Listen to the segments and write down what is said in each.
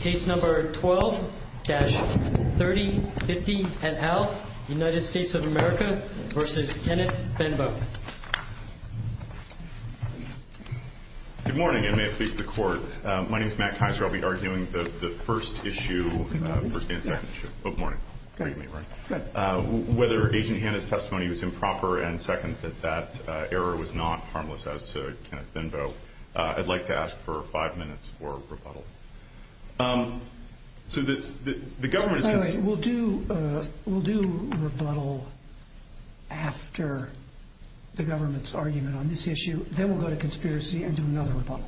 Case number 12-3050NL, United States of America v. Kenneth Benbow Good morning, and may it please the court. My name is Matt Kaiser. I'll be arguing the first issue for today's meeting. Whether Agent Hanna's testimony was improper and second that that error was not harmless as to Kenneth Benbow, I'd like to ask for five minutes for rebuttal. We'll do rebuttal after the government's argument on this issue, then we'll go to conspiracy and do another rebuttal.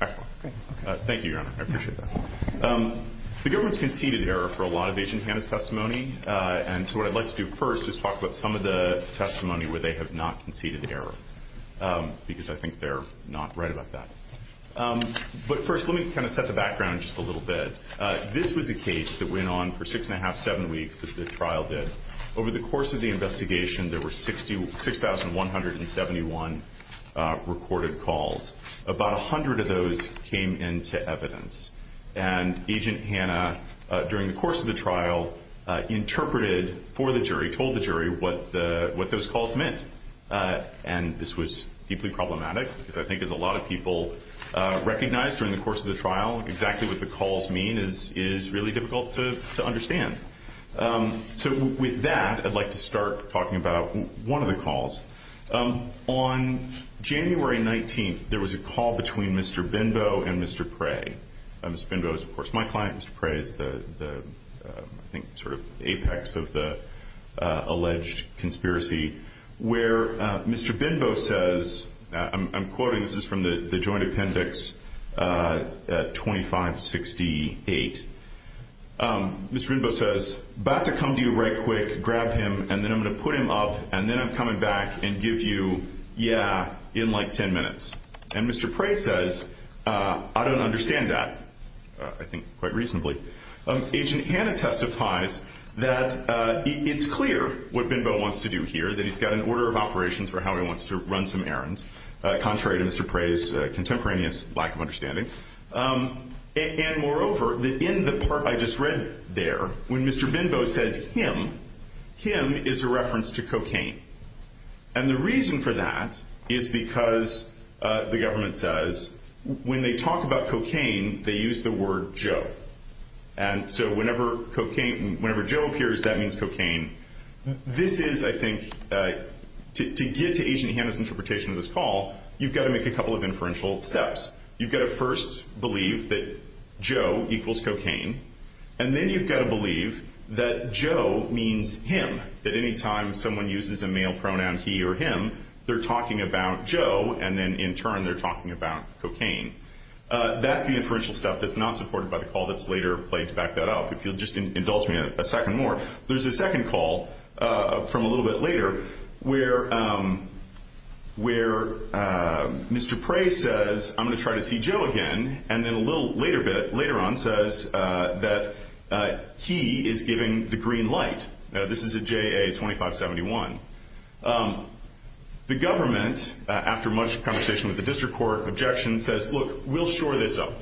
Thank you, Your Honor. I appreciate that. The government's conceded error for a lot of Agent Hanna's testimony, and so what I'd like to do first is talk about some of the testimony where they have not conceded error because I think they're not right about that. But first, let me kind of set the background just a little bit. This was a case that went on for six and a half, seven weeks, as this trial did. Over the course of the investigation, there were 6,171 recorded calls. About 100 of those came into evidence, and Agent Hanna, during the course of the trial, interpreted for the jury, told the jury what those calls meant. And this was deeply problematic because I think as a lot of people recognize during the course of the trial, exactly what the calls mean is really difficult to understand. So with that, I'd like to start talking about one of the calls. On January 19th, there was a call between Mr. Benbow and Mr. Cray. Mr. Benbow is, of course, my client. Mr. Cray is the, I think, sort of apex of the alleged conspiracy. Where Mr. Benbow says, I'm quoting, this is from the Joint Appendix 2568. Mr. Benbow says, Back to come to you right quick, grab him, and then I'm going to put him up, and then I'm coming back and give you, yeah, in like ten minutes. And Mr. Cray says, I don't understand that. I think quite reasonably. Agent Hanna testifies that it's clear what Benbow wants to do here, that he's got an order of operations for how he wants to run some errands, contrary to Mr. Cray's contemporaneous lack of understanding. And moreover, in the part I just read there, when Mr. Benbow says him, him is a reference to cocaine. And the reason for that is because the government says when they talk about cocaine, they use the word Joe. And so whenever Joe appears, that means cocaine. This is, I think, to get to Agent Hanna's interpretation of this call, you've got to make a couple of inferential steps. You've got to first believe that Joe equals cocaine, and then you've got to believe that Joe means him, that any time someone uses a male pronoun, he or him, they're talking about Joe, and then in turn they're talking about cocaine. That's the inferential stuff that's not supported by the call that's later, but let's back that up. If you'll just indulge me a second more. There's a second call from a little bit later where Mr. Cray says, I'm going to try to see Joe again, and then a little later on says that he is giving the green light. This is at JA 2571. The government, after much conversation with the district court, objection says, look, we'll shore this up.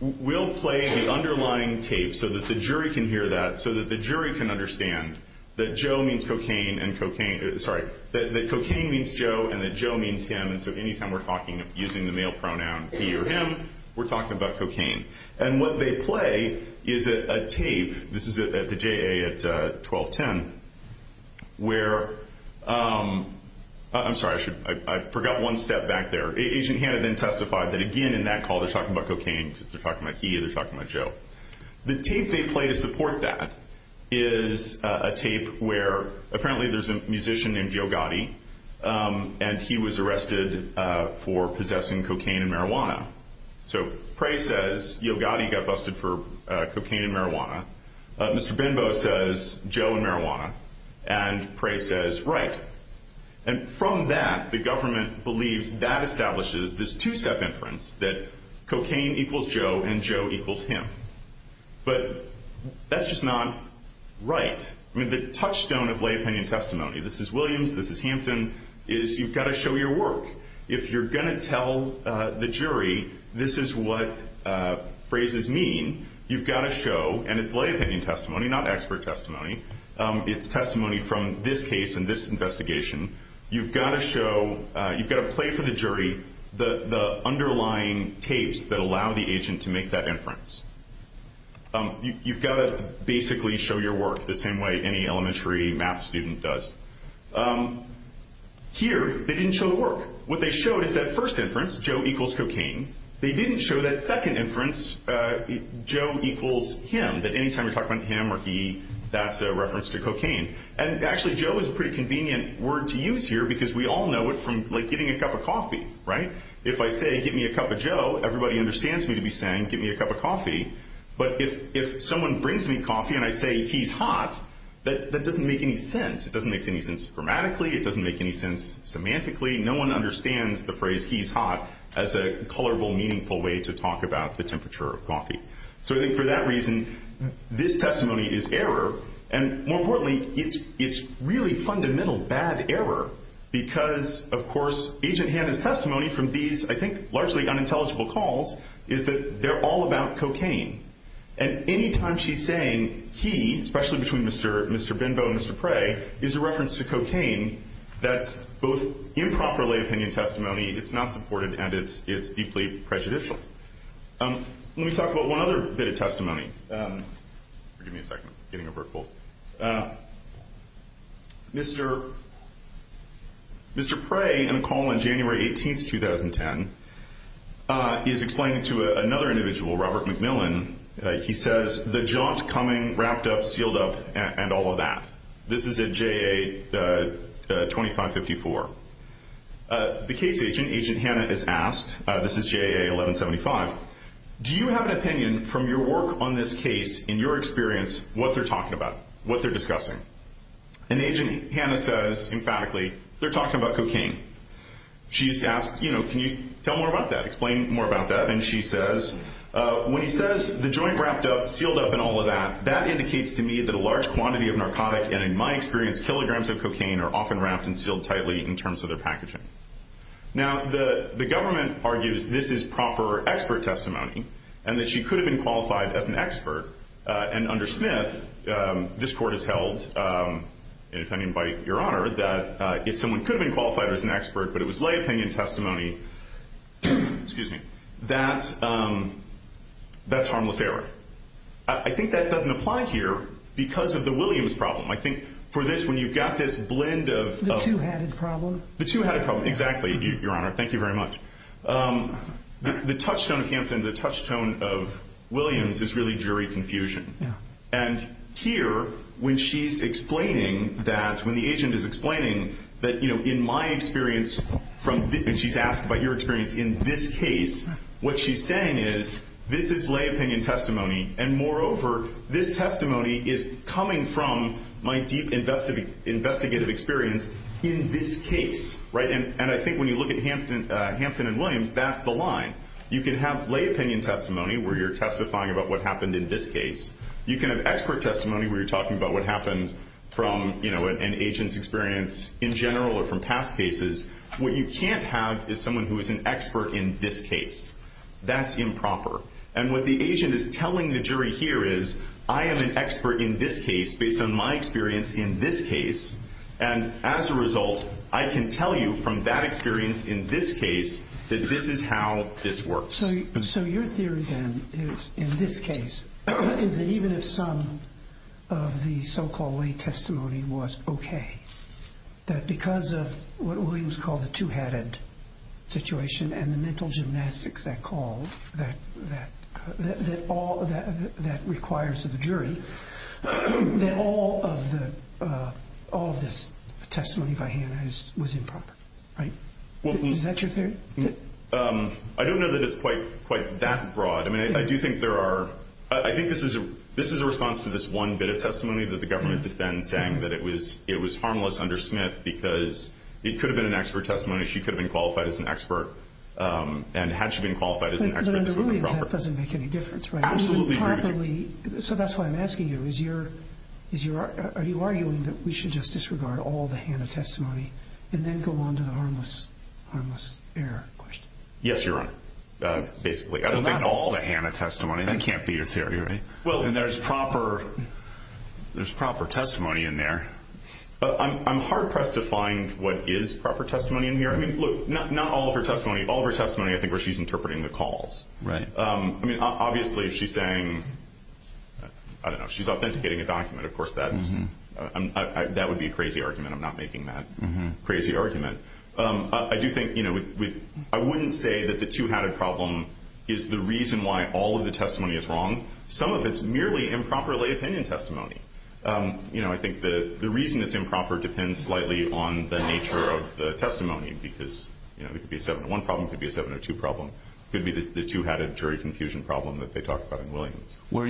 We'll play the underlying tape so that the jury can hear that, so that the jury can understand that Joe means cocaine and cocaine, sorry, that cocaine means Joe and that Joe means him, and so any time we're talking using the male pronoun, he or him, we're talking about cocaine. And what they play is a tape. This is at the JA at 1210 where, I'm sorry, I forgot one step back there. Agent Hanna then testified that, again, in that call, they're talking about cocaine because they're talking about he and they're talking about Joe. The tape they play to support that is a tape where apparently there's a musician named Yo Gotti, and he was arrested for possessing cocaine and marijuana. So Prey says Yo Gotti got busted for cocaine and marijuana. Mr. Benbow says Joe and marijuana. And Prey says right. And from that, the government believes that establishes this two-step inference that cocaine equals Joe and Joe equals him. But that's just not right. I mean, the touchstone of lay opinion testimony, this is Williams, this is Hanson, is you've got to show your work. If you're going to tell the jury this is what phrases mean, you've got to show, and it's lay opinion testimony, not expert testimony. It's testimony from this case and this investigation. You've got to show, you've got to play for the jury the underlying tapes that allow the agent to make that inference. You've got to basically show your work the same way any elementary math student does. Here, they didn't show the work. What they showed is that first inference, Joe equals cocaine. They didn't show that second inference, Joe equals him, that any time you talk about him or he, that's a reference to cocaine. And actually, Joe is a pretty convenient word to use here because we all know it from, like, getting a cup of coffee, right? If I say get me a cup of Joe, everybody understands me to be saying get me a cup of coffee. But if someone brings me coffee and I say he's hot, that doesn't make any sense. It doesn't make any sense grammatically. It doesn't make any sense semantically. No one understands the phrase he's hot as a colorful, meaningful way to talk about the temperature of coffee. So I think for that reason, this testimony is error. And more importantly, it's really fundamental bad error because, of course, agent Hannah's testimony from these, I think, largely unintelligible calls is that they're all about cocaine. And any time she's saying he, especially between Mr. Binbow and Mr. Prey, is a reference to cocaine, that's both improperly opinion testimony, it's not supportive, and it's deeply prejudicial. Let me talk about one other bit of testimony. Give me a second. I'm getting a vertical. Mr. Prey, in a call on January 18, 2010, is explaining to another individual, Robert McMillan, he says, the job's coming, wrapped up, sealed up, and all of that. This is at JA 2554. The case agent, agent Hannah, is asked, this is JA 1175, do you have an opinion from your work on this case in your experience what they're talking about, what they're discussing? And agent Hannah says emphatically, they're talking about cocaine. She's asked, you know, can you tell more about that, explain more about that, and she says, when he says the joint wrapped up, sealed up, and all of that, that indicates to me that a large quantity of narcotics, and in my experience, kilograms of cocaine are often wrapped and sealed tightly in terms of their packaging. Now, the government argues this is proper expert testimony, and that she could have been qualified as an expert, and under Smith, this court has held, and if I may invite your honor, that if someone could have been qualified as an expert, that's harmless error. I think that doesn't apply here because of the Williams problem. I think for this, when you've got this blend of... The two-headed problem. The two-headed problem, exactly, your honor. Thank you very much. The touchstone of Hampton, the touchstone of Williams is really jury confusion. And here, when she's explaining that, when the agent is explaining that, you know, what she's saying is, this is lay opinion testimony, and moreover, this testimony is coming from my deep investigative experience in this case. And I think when you look at Hampton and Williams, that's the line. You can have lay opinion testimony where you're testifying about what happened in this case. You can have expert testimony where you're talking about what happens from, you know, an agent's experience in general or from past cases. What you can't have is someone who is an expert in this case. That's improper. And what the agent is telling the jury here is, I am an expert in this case based on my experience in this case, and as a result, I can tell you from that experience in this case that this is how this works. So your theory, then, is in this case, even if some of the so-called lay opinion testimony is called a two-headed situation and the mental gymnastics that calls, that requires of the jury, that all of this testimony by hand was improper, right? Is that your theory? I don't know that it's quite that broad. I mean, I do think there are – I think this is a response to this one bit of testimony that the government defend saying that it was harmless under Smith because it could have been an expert testimony. She could have been qualified as an expert, and had she been qualified as an expert, this would have been proper. But under Lillian, that doesn't make any difference, right? Absolutely. So that's why I'm asking you, is your – are you arguing that we should just disregard all the HANA testimony and then go on to the harmless error question? Yes, Your Honor, basically. I don't mean all the HANA testimony. That can't be your theory, right? Well, and there's proper – there's proper testimony in there. I'm hard-pressed to find what is proper testimony in here. I mean, not all of her testimony. All of her testimony, I think, where she's interpreting the calls. Right. I mean, obviously, if she's saying – I don't know. She's authenticating a document. Of course, that would be a crazy argument. I'm not making that crazy argument. I do think – I wouldn't say that the two-handed problem is the reason why all of the testimony is wrong. Some of it's merely improper lay opinion testimony. You know, I think the reason it's improper depends slightly on the nature of the testimony because, you know, it could be a seven-to-one problem. It could be a seven-to-two problem. It could be the two-handed jury confusion problem that they talked about in Williams. Well,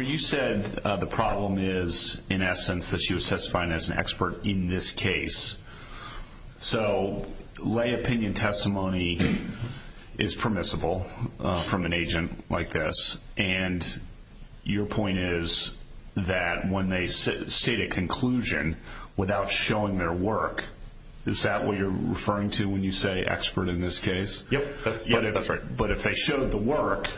you said the problem is, in essence, that she was testifying as an expert in this case. So lay opinion testimony is permissible from an agent like this. And your point is that when they state a conclusion without showing their work, is that what you're referring to when you say expert in this case? Yep. That's right. But if they showed the work,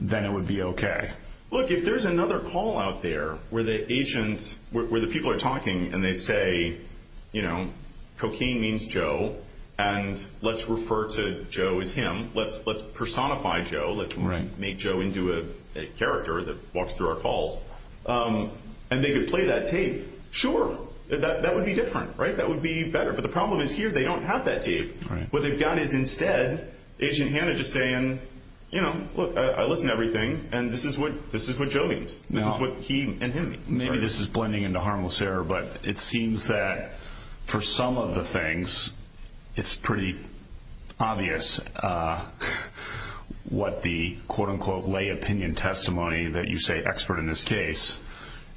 then it would be okay. Look, if there's another call out there where the agents – where the people are talking and they say, you know, cocaine means Joe, and let's refer to Joe as my Joe, let's make Joe into a character that walks through our halls, and they could play that tape, sure. That would be different, right? That would be better. But the problem is here they don't have that tape. What they've got is instead agent Hannah just saying, you know, look, I listen to everything, and this is what Joe means. This is what he and him mean. Maybe this is blending into harmless error, but it seems that for some of the what the, quote-unquote, lay opinion testimony that you say expert in this case,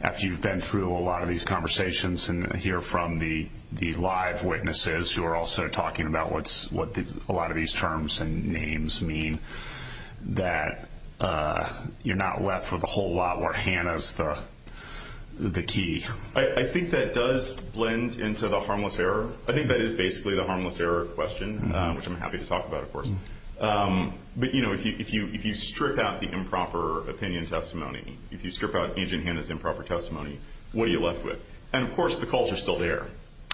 after you've been through a lot of these conversations and hear from the live witnesses who are also talking about what a lot of these terms and names mean, that you're not left with a whole lot where Hannah is the key. I think that does blend into the harmless error. I think that is basically the harmless error question, which I'm happy to talk about, of course. But, you know, if you strip out the improper opinion testimony, if you strip out agent Hannah's improper testimony, what are you left with? And, of course, the calls are still there.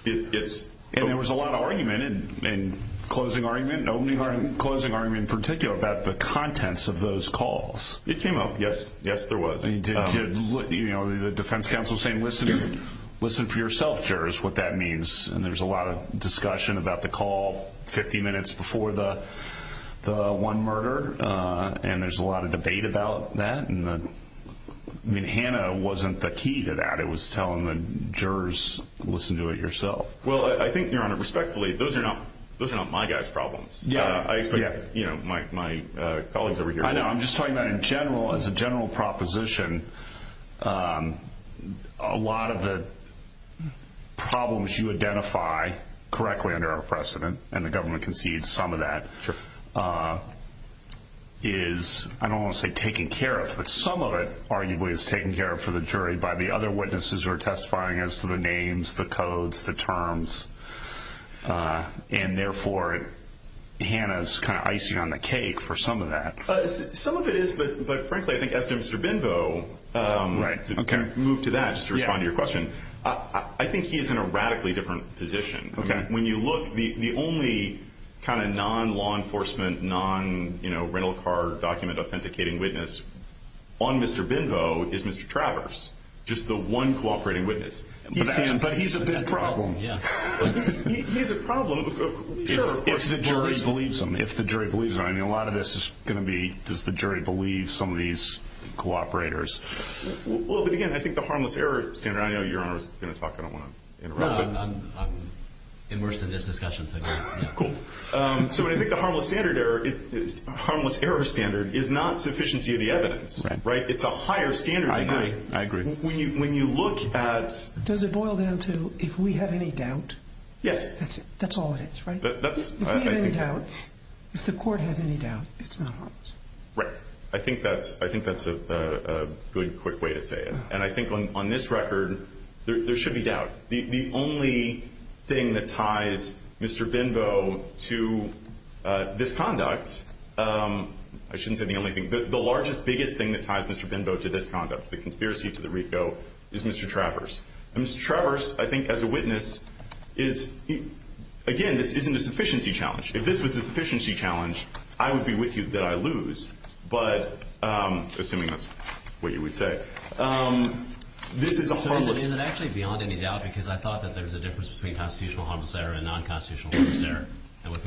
And there was a lot of argument and closing argument, opening argument, closing argument in particular about the contents of those calls. It came up, yes. Yes, there was. You know, the defense counsel saying listen for yourself here is what that one murder, and there's a lot of debate about that. And, I mean, Hannah wasn't the key to that. It was telling the jurors listen to it yourself. Well, I think, you know, respectfully, those are not my guys' problems. Yeah. You know, my colleagues over here. I know. I'm just talking about in general, as a general proposition, a lot of the problems you identify correctly under our precedent, and the government concedes some of that is, I don't want to say taken care of, but some of it arguably is taken care of for the jury by the other witnesses who are testifying as to the names, the codes, the terms. And, therefore, Hannah is kind of icing on the cake for some of that. Some of it is, but, frankly, I think as to Mr. Binbow, to move to that to respond to your question, I think he is in a radically different position. Okay. I mean, when you look, the only kind of non-law enforcement, non-rental car document authenticating witness on Mr. Binbow is Mr. Travers, just the one cooperating witness. But he's a big problem. Yeah. He's a big problem. Sure. If the jury believes him. If the jury believes him. I mean, a lot of this is going to be, does the jury believe some of these cooperators? Well, but, again, I think the harmless error standard. I know you're going to talk. I don't want to interrupt. I'm immersed in this discussion. Cool. So, I think the harmless error standard is not sufficiency of the evidence. Right. It's a higher standard. I agree. When you look at. Does it boil down to if we have any doubt? Yes. That's all it is, right? If we have any doubt, if the court has any doubt, it's not harmless. Right. I think that's a good, quick way to say it. And I think on this record, there should be doubt. The only thing that ties Mr. Benbo to this conduct. I shouldn't say the only thing. The largest, biggest thing that ties Mr. Benbo to this conduct, the conspiracy to the RICO, is Mr. Travers. And Mr. Travers, I think, as a witness, is, again, this isn't a sufficiency challenge. If this was a sufficiency challenge, I would be with you that I lose. But, assuming that's what you would say. This is a harmless. Is it actually beyond any doubt? Because I thought that there was a difference between constitutional harmless error and non-constitutional harmless error. And with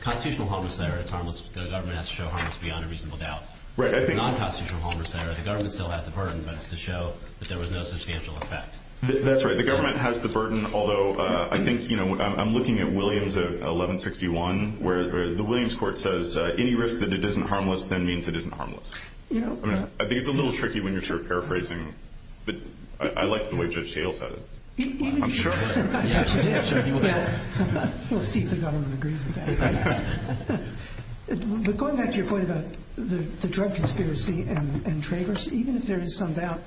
constitutional harmless error, the government has to show harmless beyond a reasonable doubt. With non-constitutional harmless error, the government still has the burden, but it's to show that there was no substantial effect. That's right. The government has the burden. Although, I think, you know, I'm looking at Williams at 1161, where the Williams court says, any risk that it isn't harmless then means it isn't harmless. I think it's a little tricky when you're paraphrasing. I like the way Judge Dale said it. I'm sure. We'll see if the government agrees with that. Going back to your point about the drug conspiracy and Travers, even if there is some doubt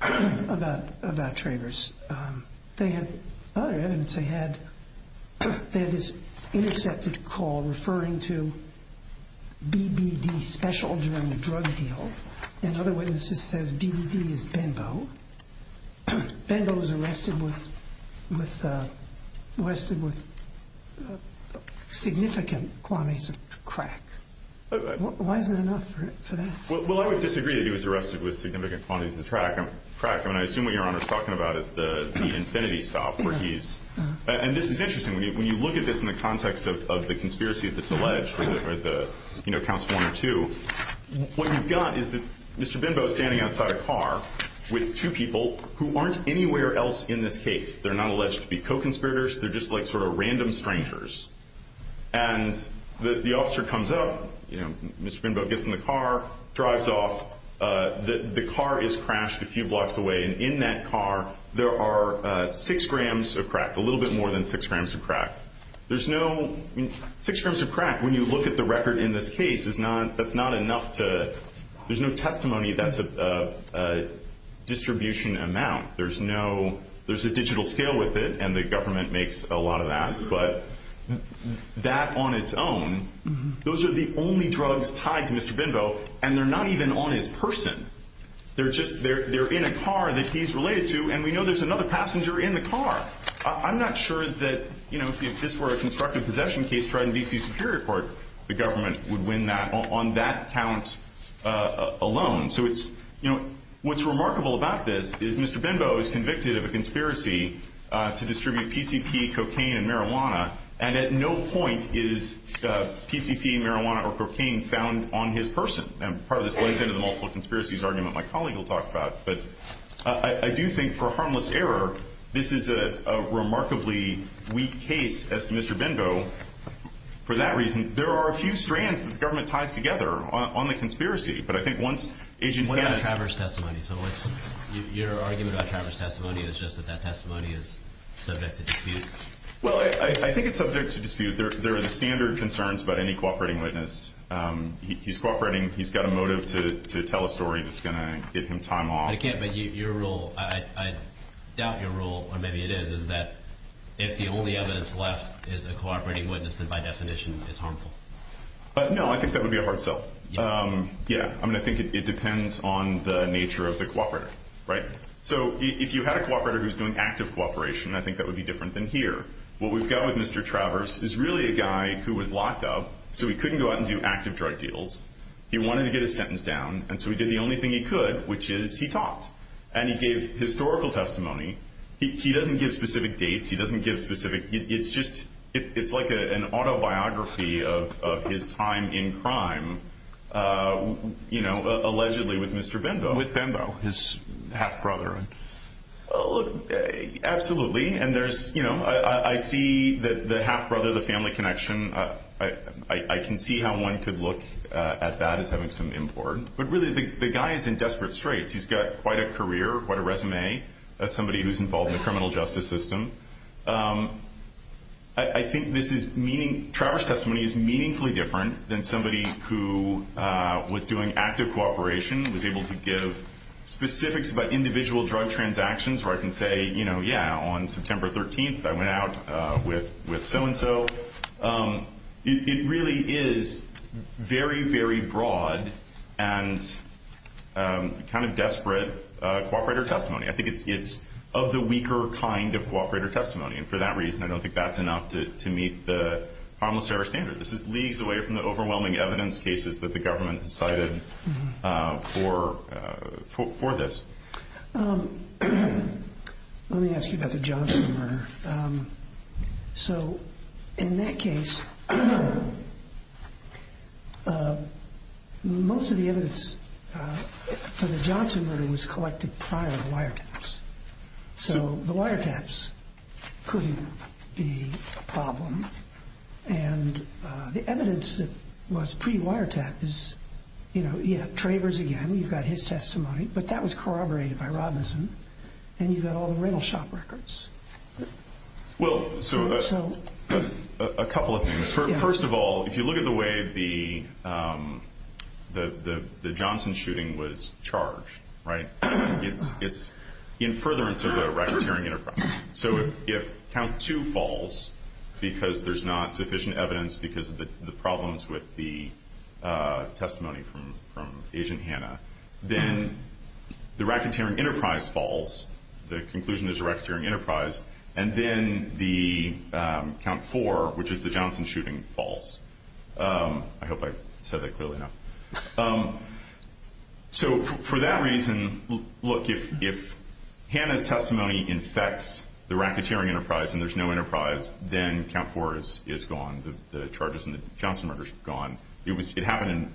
about Travers, they had other evidence. They had this intercepted call referring to BBD special during the drug deal. Another witness just says BBD is Benbo. Benbo was arrested with significant quantities of crack. Why is there enough for that? Well, I would disagree that he was arrested with significant quantities of crack. I mean, I assume what you're talking about is the infinity stop. And this is interesting. When you look at this in the context of the conspiracy of the counts one and two, what you've got is that Mr. Benbo is standing outside a car with two people who aren't anywhere else in the case. They're not alleged to be co-conspirators. They're just like sort of random strangers. And the officer comes up. Mr. Benbo gets in the car, drives off. The car is crashed a few blocks away. And in that car there are six grams of crack, a little bit more than six grams of crack. Six grams of crack, when you look at the record in this case, there's no testimony that's a distribution amount. There's a digital scale with it, and the government makes a lot of that. But that on its own, those are the only drugs tied to Mr. Benbo, and they're not even on his person. They're in a car that he's related to, and we know there's another passenger in the car. I'm not sure that, you know, if this were a constructive possession case tried in D.C. Superior Court, the government would win that on that count alone. So it's, you know, what's remarkable about this is Mr. Benbo is convicted of a conspiracy to distribute PCP, cocaine, and marijuana, and at no point is PCP, marijuana, or cocaine found on his person. And part of this lays into the multiple conspiracies argument my colleague will talk about. But I do think for harmless error, this is a remarkably weak case as to Mr. Benbo. For that reason, there are a few strands that the government ties together on the conspiracy. But I think once agents have... What about the traverse testimony? Your argument about traverse testimony is just that that testimony is subject to dispute. Well, I think it's subject to dispute. There are standard concerns about any cooperating witness. He's cooperating, he's got a motive to tell a story that's going to get him time off. But again, your rule, I doubt your rule, or maybe it is, is that if the only evidence left is a cooperating witness, then by definition it's harmful. No, I think that would be a hard sell. Yeah. I mean, I think it depends on the nature of the cooperator, right? So if you had a cooperator who's doing active cooperation, I think that would be different than here. What we've got with Mr. Traverse is really a guy who was locked up, so he couldn't go out and do active drug deals. He wanted to get his sentence down, and so he did the only thing he could, which is he talked. And he gave historical testimony. He doesn't give specific dates, he doesn't give specific, it's just like an autobiography of his time in crime, you know, allegedly with Mr. Bimbo. With Bimbo, his half-brother. Absolutely. And there's, you know, I see the half-brother, the family connection. I can see how one could look at that as having some import. But really, the guy is in desperate straits. He's got quite a career, quite a resume, as somebody who's involved in the criminal justice system. I think this is meaning, Traverse testimony is meaningfully different than somebody who was doing active cooperation, was able to give specifics about individual drug transactions where I can say, you know, yeah, on September 13th, I went out with so-and-so. It really is very, very broad and kind of desperate cooperator testimony. I think it's of the weaker kind of cooperator testimony. And for that reason, I don't think that's enough to meet the harmless error standard. This is leagues away from the overwhelming evidence cases that the government decided for this. Let me ask you about the Johnson murder. So, in that case, most of the evidence for the Johnson murder was collected prior to the wiretaps. So, the wiretaps couldn't be the problem. And the evidence that was pre-wiretap is, you know, Traverse again. You've got his testimony. But that was corroborated by Robinson. And you've got all the rental shop records. Well, so, a couple of things. First of all, if you look at the way the Johnson shooting was charged, right, it's in furtherance of the racketeering enterprise. So, if count two falls because there's not sufficient evidence because of the problems with the testimony from Agent Hanna, then the racketeering enterprise falls. The conclusion is a racketeering enterprise. And then the count four, which is the Johnson shooting, falls. I hope I said that clearly enough. So, for that reason, look, if Hanna's testimony infects the racketeering enterprise and there's no enterprise, then count four is gone. The charges in the Johnson murder is gone. It happened in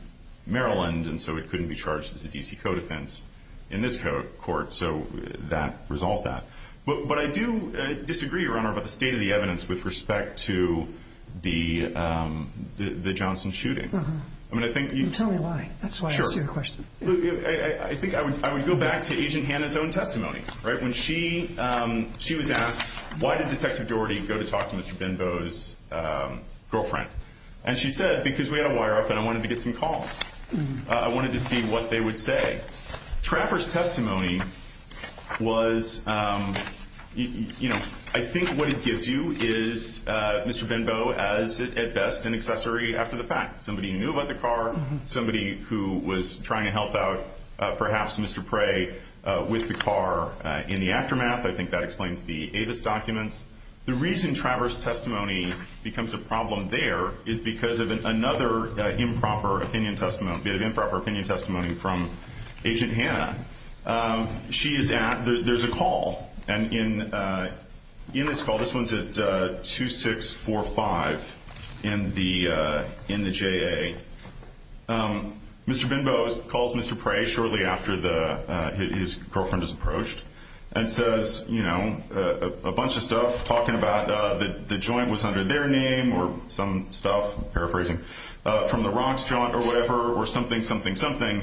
Maryland, and so it couldn't be charged as a D.C. code offense in this court. So, that resolved that. But I do disagree, Your Honor, about the state of the evidence with respect to the Johnson shooting. Uh-huh. You tell me why. That's why I asked you a question. Sure. I think I would go back to Agent Hanna's own testimony, right? When she was asked, why did Detective Doherty go to talk to Mr. Benbow's girlfriend? And she said, because we had a wire up and I wanted to get some calls. I wanted to see what they would say. Trapper's testimony was, you know, I think what it gives you is Mr. Benbow as, at best, an accessory after the fact. Somebody knew about the car, somebody who was trying to help out perhaps Mr. Prey with the car in the aftermath. I think that explains the Avis document. The reason Trapper's testimony becomes a problem there is because of another improper opinion testimony from Agent Hanna. She is at, there's a call. And in this call, this one's at 2645 in the J.A., Mr. Benbow calls Mr. Prey shortly after his girlfriend is approached and says, you know, a bunch of stuff. Talking about the joint was under their name or some stuff, paraphrasing, from the rocks, or whatever, or something, something, something.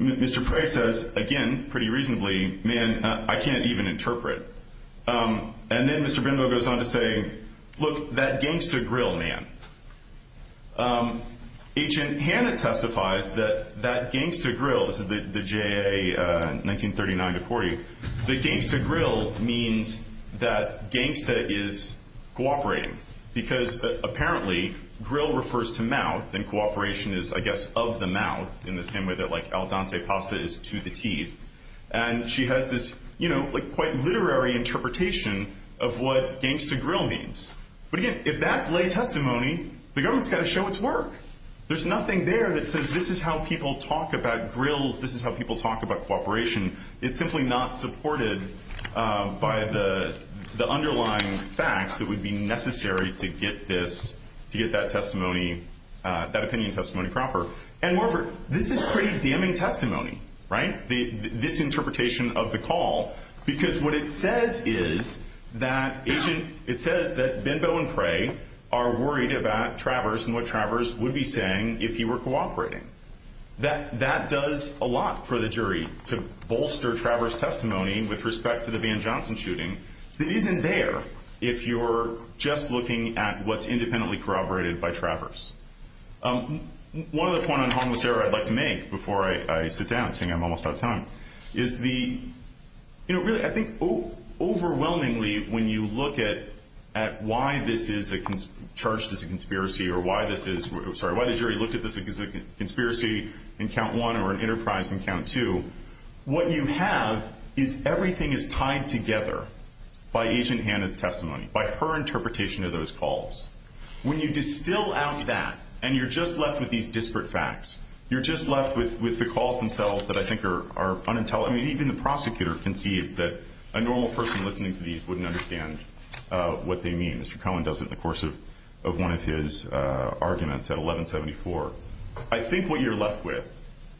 Mr. Prey says, again, pretty reasonably, man, I can't even interpret. And then Mr. Benbow goes on to say, look, that games to grill, man. Agent Hanna testifies that that games to grill, the J.A., 1939 to 40, that games to grill means that games to is cooperating. Because apparently, grill refers to mouth, and cooperation is, I guess, of the mouth in the same way that, like, al dente pasta is to the teeth. And she has this, you know, like quite literary interpretation of what games to grill means. But, again, if that's lay testimony, the government's got to show its work. There's nothing there that says this is how people talk about grills, this is how people talk about cooperation. It's simply not supported by the underlying facts that would be necessary to get this, to get that testimony, that opinion testimony proper. And, moreover, this is pretty damning testimony, right, this interpretation of the call, because what it says is that agent, it says that Benbow and Prey are worried about Travers and what Travers would be saying if he were cooperating. That does a lot for the jury to bolster Travers' testimony with respect to the Van Johnson shooting. It isn't there if you're just looking at what's independently corroborated by Travers. One other point on harmless error I'd like to make before I sit down, seeing I'm almost out of time, is the, you know, really, I think, overwhelmingly when you look at why this is charged as a conspiracy, or why this is, I'm sorry, why the jury looked at this as a conspiracy in count one or an enterprise in count two, what you have is everything is tied together by agent Hannah's testimony, by her interpretation of those calls. When you distill out that and you're just left with these disparate facts, you're just left with the calls themselves that I think are unintelligible. Even the prosecutor can see that a normal person listening to these wouldn't understand what they mean. Mr. Cohen does it in the course of one of his arguments at 1174. I think what you're left with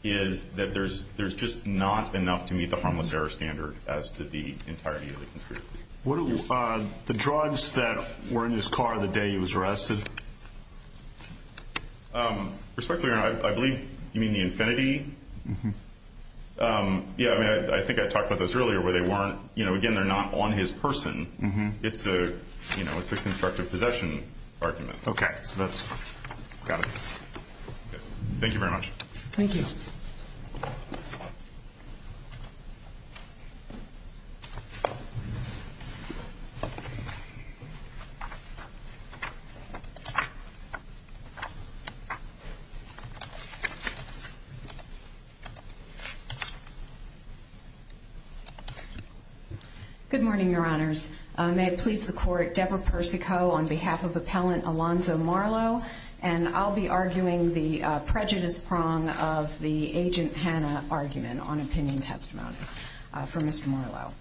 is that there's just not enough to meet the harmless error standard as to the entirety of the conspiracy. The drugs that were in his car the day he was arrested? Respectfully, I believe you mean the Infinity? Yeah, I mean, I think I talked about this earlier where they weren't, you know, again, they're not on his person. It's a, you know, it's a constructive possession argument. Okay. So that's, got it. Thank you very much. Thank you. Thank you. Good morning, Your Honors. May it please the Court, Deborah Persico on behalf of Appellant Alonzo Marlowe, and I'll be arguing the prejudice prong of the Agent Hanna argument on opinion testimony for Mr. Marlowe.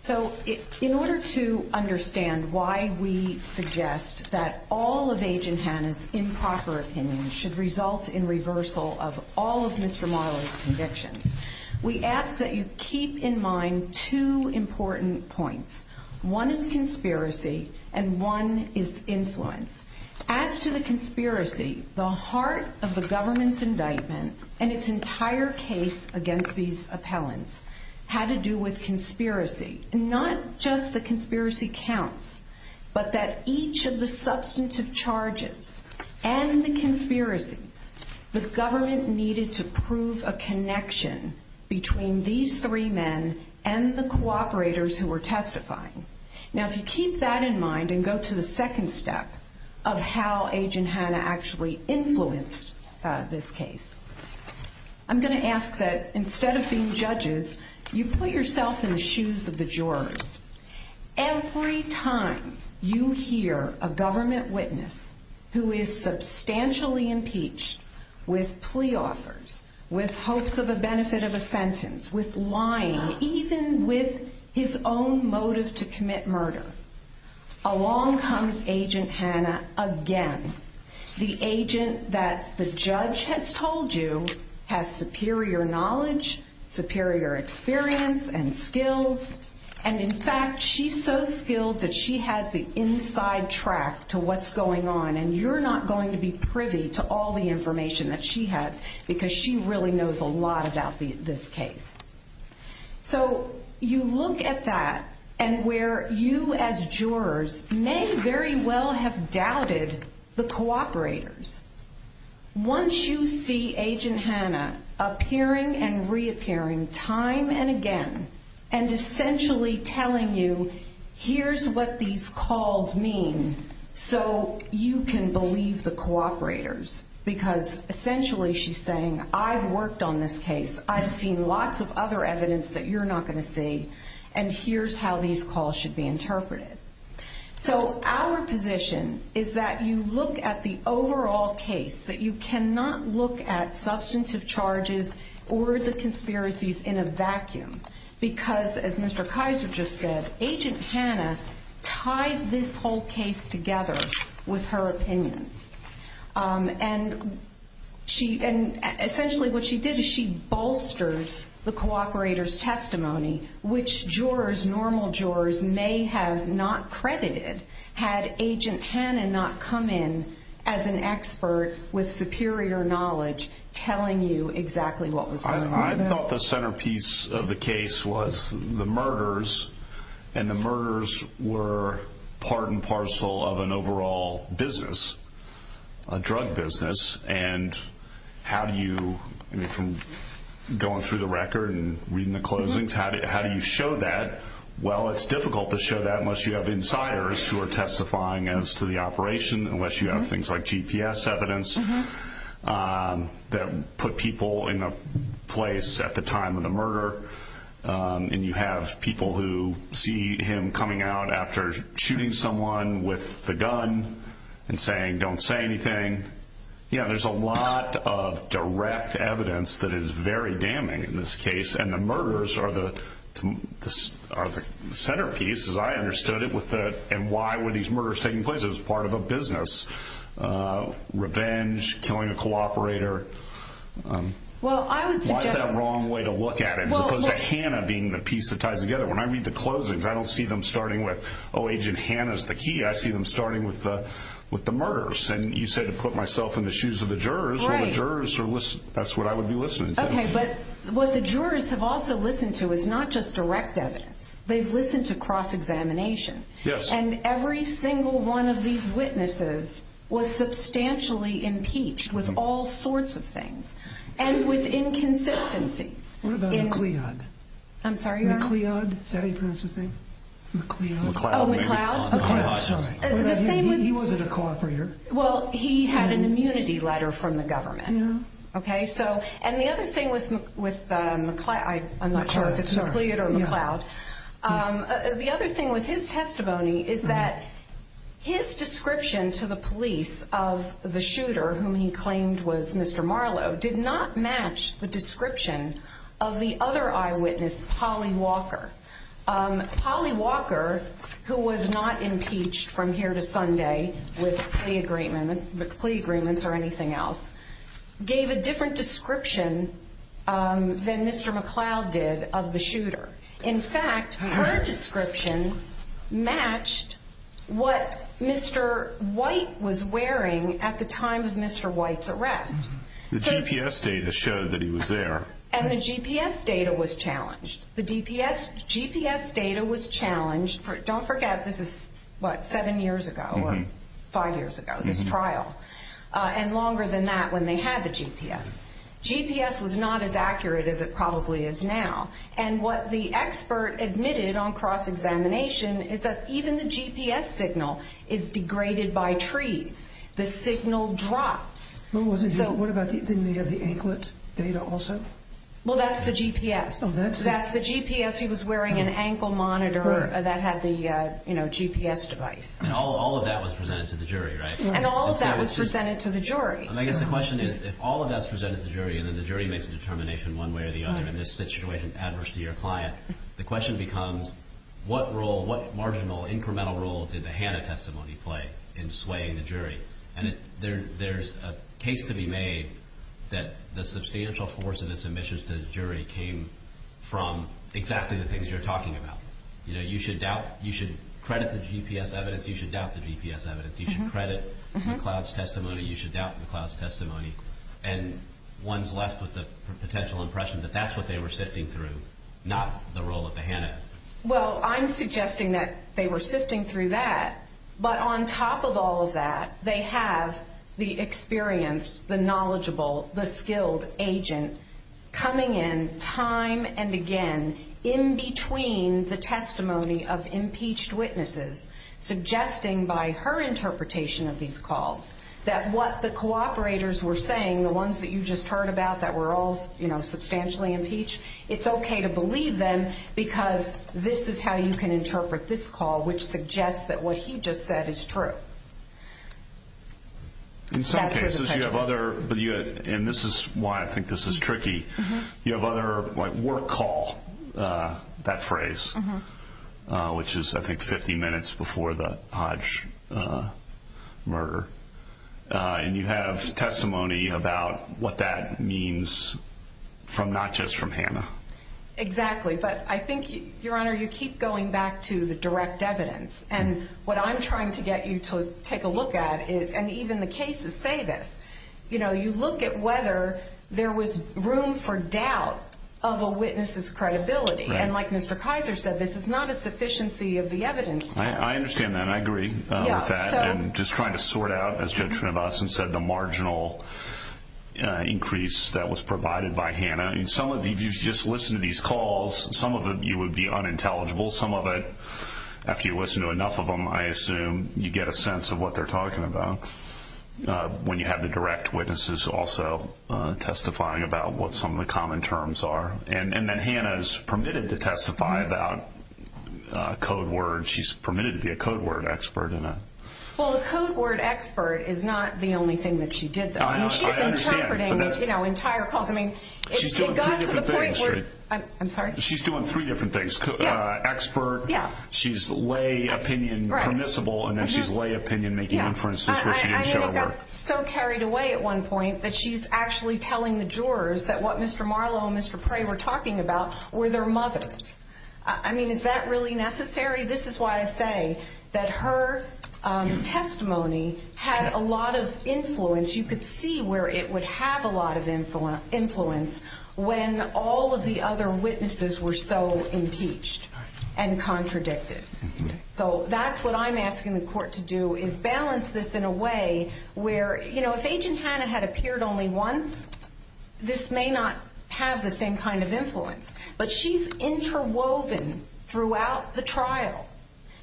So in order to understand why we suggest that all of Agent Hanna's improper opinions should result in reversal of all of Mr. Marlowe's convictions, we ask that you keep in mind two important points. One is conspiracy, and one is influence. As to the conspiracy, the heart of the government's indictment and its entire case against these appellants had to do with conspiracy. And not just the conspiracy counts, but that each of the substantive charges and the conspiracy, the government needed to prove a connection between these three men and the cooperators who were testifying. Now, if you keep that in mind and go to the second step of how Agent Hanna actually influenced this case, I'm going to ask that instead of being judges, you put yourself in the shoes of the jurors. Every time you hear a government witness who is substantially impeached with plea offers, with hopes of a benefit of a sentence, with lying, even with his own motive to commit murder, along comes Agent Hanna again, the agent that the judge has told you has superior knowledge, superior experience and skills. And in fact, she's so skilled that she has the inside track to what's going on, and you're not going to be privy to all the information that she has because she really knows a lot about this case. So you look at that and where you as jurors may very well have doubted the cooperators. Once you see Agent Hanna appearing and reappearing time and again and essentially telling you, here's what these calls mean so you can believe the cooperators, because essentially she's saying, I've worked on this case, I've seen lots of other evidence that you're not going to see, and here's how these calls should be interpreted. So our position is that you look at the overall case, that you cannot look at substantive charges or the conspiracies in a vacuum, because as Mr. Kaiser just said, Agent Hanna tied this whole case together with her opinions. And essentially what she did is she bolstered the cooperators' testimony, which jurors, normal jurors may have not credited had Agent Hanna not come in as an expert with superior knowledge telling you exactly what was going on. I thought the centerpiece of the case was the murders, and the murders were part and parcel of an overall business, a drug business. And how do you, going through the record and reading the closings, how do you show that? Well, it's difficult to show that unless you have insiders who are testifying as to the operation, unless you have things like GPS evidence that put people in a place at the time of the murder, and you have people who see him coming out after shooting someone with the gun and saying, don't say anything. You know, there's a lot of direct evidence that is very damning in this case, and the murders are the centerpiece, as I understood it, and why were these murders taking place? It was part of a business. Revenge, killing a cooperator. Why is that a wrong way to look at it, as opposed to Hanna being the piece that ties together? When I read the closings, I don't see them starting with, oh, Agent Hanna is the key. I see them starting with the murders. And you say to put myself in the shoes of the jurors. Well, the jurors are listening. That's what I would be listening to. Okay, but what the jurors have also listened to is not just direct evidence. They've listened to cross-examination. Yes. And every single one of these witnesses was substantially impeached with all sorts of things, and with inconsistency. What about McLeod? I'm sorry, Your Honor? McLeod, is that how you pronounce his name? McLeod. McLeod. McLeod. He wasn't a cooperator. Well, he had an immunity letter from the government. The other thing with his testimony is that his description to the police of the shooter, whom he claimed was Mr. Marlowe, did not match the description of the other eyewitness, Holly Walker. Holly Walker, who was not impeached from here to Sunday with plea agreements or anything else, gave a different description than Mr. McLeod did of the shooter. In fact, her description matched what Mr. White was wearing at the time of Mr. White's arrest. The GPS data showed that he was there. And the GPS data was challenged. The GPS data was challenged. Don't forget this is, what, seven years ago or five years ago, this trial, and longer than that when they had the GPS. GPS was not as accurate as it probably is now. And what the expert admitted on cross-examination is that even the GPS signal is degraded by trees. The signal dropped. What about the anklet data also? Well, that's the GPS. That's the GPS. He was wearing an ankle monitor that had the GPS device. All of that was presented to the jury, right? And all of that was presented to the jury. I guess the question is, if all of that's presented to the jury, and then the jury makes a determination one way or the other, and this situation is adverse to your client, the question becomes, what role, what marginal, incremental role did the HANA testimony play in swaying the jury? And there's a case to be made that the substantial force of its admissions to the jury came from exactly the things you're talking about. You know, you should doubt, you should credit the GPS evidence, you should doubt the GPS evidence. You should credit McLeod's testimony, you should doubt McLeod's testimony. And one's left with the potential impression that that's what they were sifting through, not the role of the HANA. Well, I'm suggesting that they were sifting through that. But on top of all of that, they have the experienced, the knowledgeable, the skilled agents coming in time and again in between the testimony of impeached witnesses, suggesting by her interpretation of these calls that what the cooperators were saying, the ones that you just heard about that were all, you know, substantially impeached, it's okay to believe them because this is how you can interpret this call, which suggests that what he just said is true. In some cases you have other, and this is why I think this is tricky, you have other, like, work call, that phrase, which is, I think, 50 minutes before the Hodge murder. And you have testimony about what that means from not just from HANA. Exactly. But I think, Your Honor, you keep going back to the direct evidence. And what I'm trying to get you to take a look at is, and even the cases say this, you know, you look at whether there was room for doubt of a witness' credibility. And like Mr. Kaiser said, this is not a sufficiency of the evidence. I understand that. I agree with that. And just trying to sort out, as the gentleman said, the marginal increase that was provided by HANA. I mean, some of you just listen to these calls. Some of you would be unintelligible. Some of it, after you listen to enough of them, I assume you get a sense of what they're talking about when you have the direct witnesses also testifying about what some of the common terms are. And then HANA is permitted to testify about code word. She's permitted to be a code word expert in that. Well, a code word expert is not the only thing that she did though. I understand. She's interpreting, you know, entire calls. I mean, it got to the point where, I'm sorry. She's doing three different things. Expert. Yeah. She's lay opinion permissible. And then she's lay opinion making inferences which she didn't show her. I know because I was so carried away at one point that she's actually telling the jurors that what Mr. Marlow and Mr. Prey were talking about were their mothers. I mean, is that really necessary? This is why I say that her testimony had a lot of influence. You could see where it would have a lot of influence when all of the other witnesses were so impeached and contradicted. So that's what I'm asking the court to do is balance this in a way where, you know, if Agent HANA had appeared only once, this may not have the same kind of influence. But she's interwoven throughout the trial.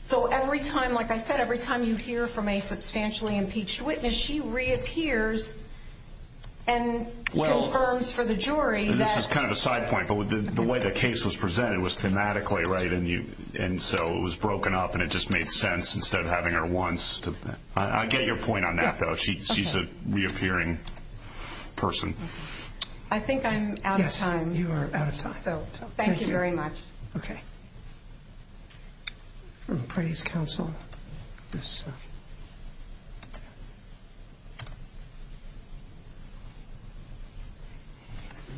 So every time, like I said, every time you hear from a substantially impeached witness, she reappears and confirms for the jury that. This is kind of a side point. The way the case was presented was thematically right and so it was broken up and it just made sense instead of having her once. I get your point on that, though. She's a reappearing person. I think I'm out of time. You are out of time. Thank you very much. Okay. I'm going to pray to counsel. Good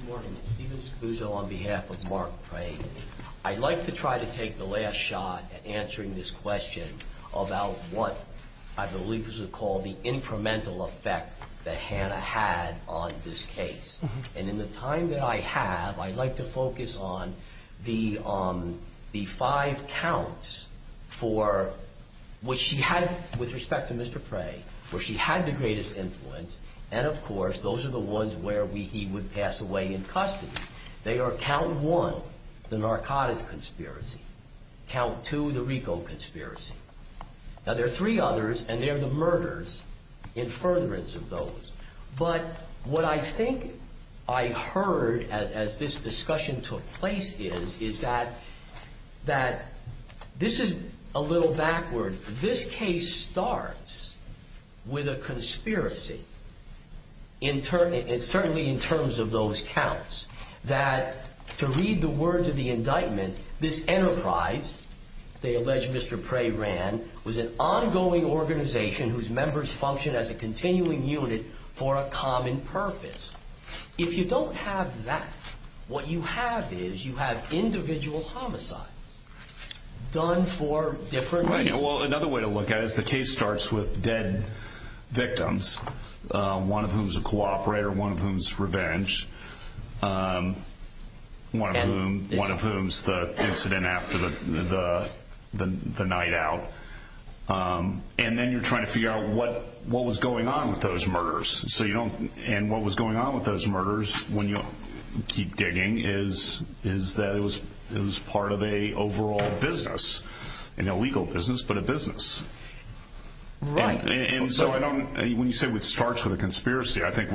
morning. I'd like to try to take the last shot at answering this question about what I believe is called the incremental effect that HANA had on this case. And in the time that I have, I'd like to focus on the five counts for what she had with respect to Mr. Pray, where she had the greatest influence and, of course, those are the ones where he would pass away in custody. They are count one, the narcotics conspiracy, count two, the Rico conspiracy. Now, there are three others and they are the murders in furtherance of those. But what I think I heard as this discussion took place is that this is a little backward. This case starts with a conspiracy, certainly in terms of those counts, that to read the words of the indictment, this enterprise, they allege Mr. Pray ran, was an ongoing organization whose members functioned as a continuing unit for a common purpose. If you don't have that, what you have is you have individual homicides done for different reasons. Well, another way to look at it is the case starts with dead victims, one of whom is a cooperator, one of whom is revenge, one of whom is the incident after the night out. And then you're trying to figure out what was going on with those murders. And what was going on with those murders, when you keep digging, is that it was part of an overall business, not a legal business, but a business. Right. And so when you say it starts with a conspiracy, I think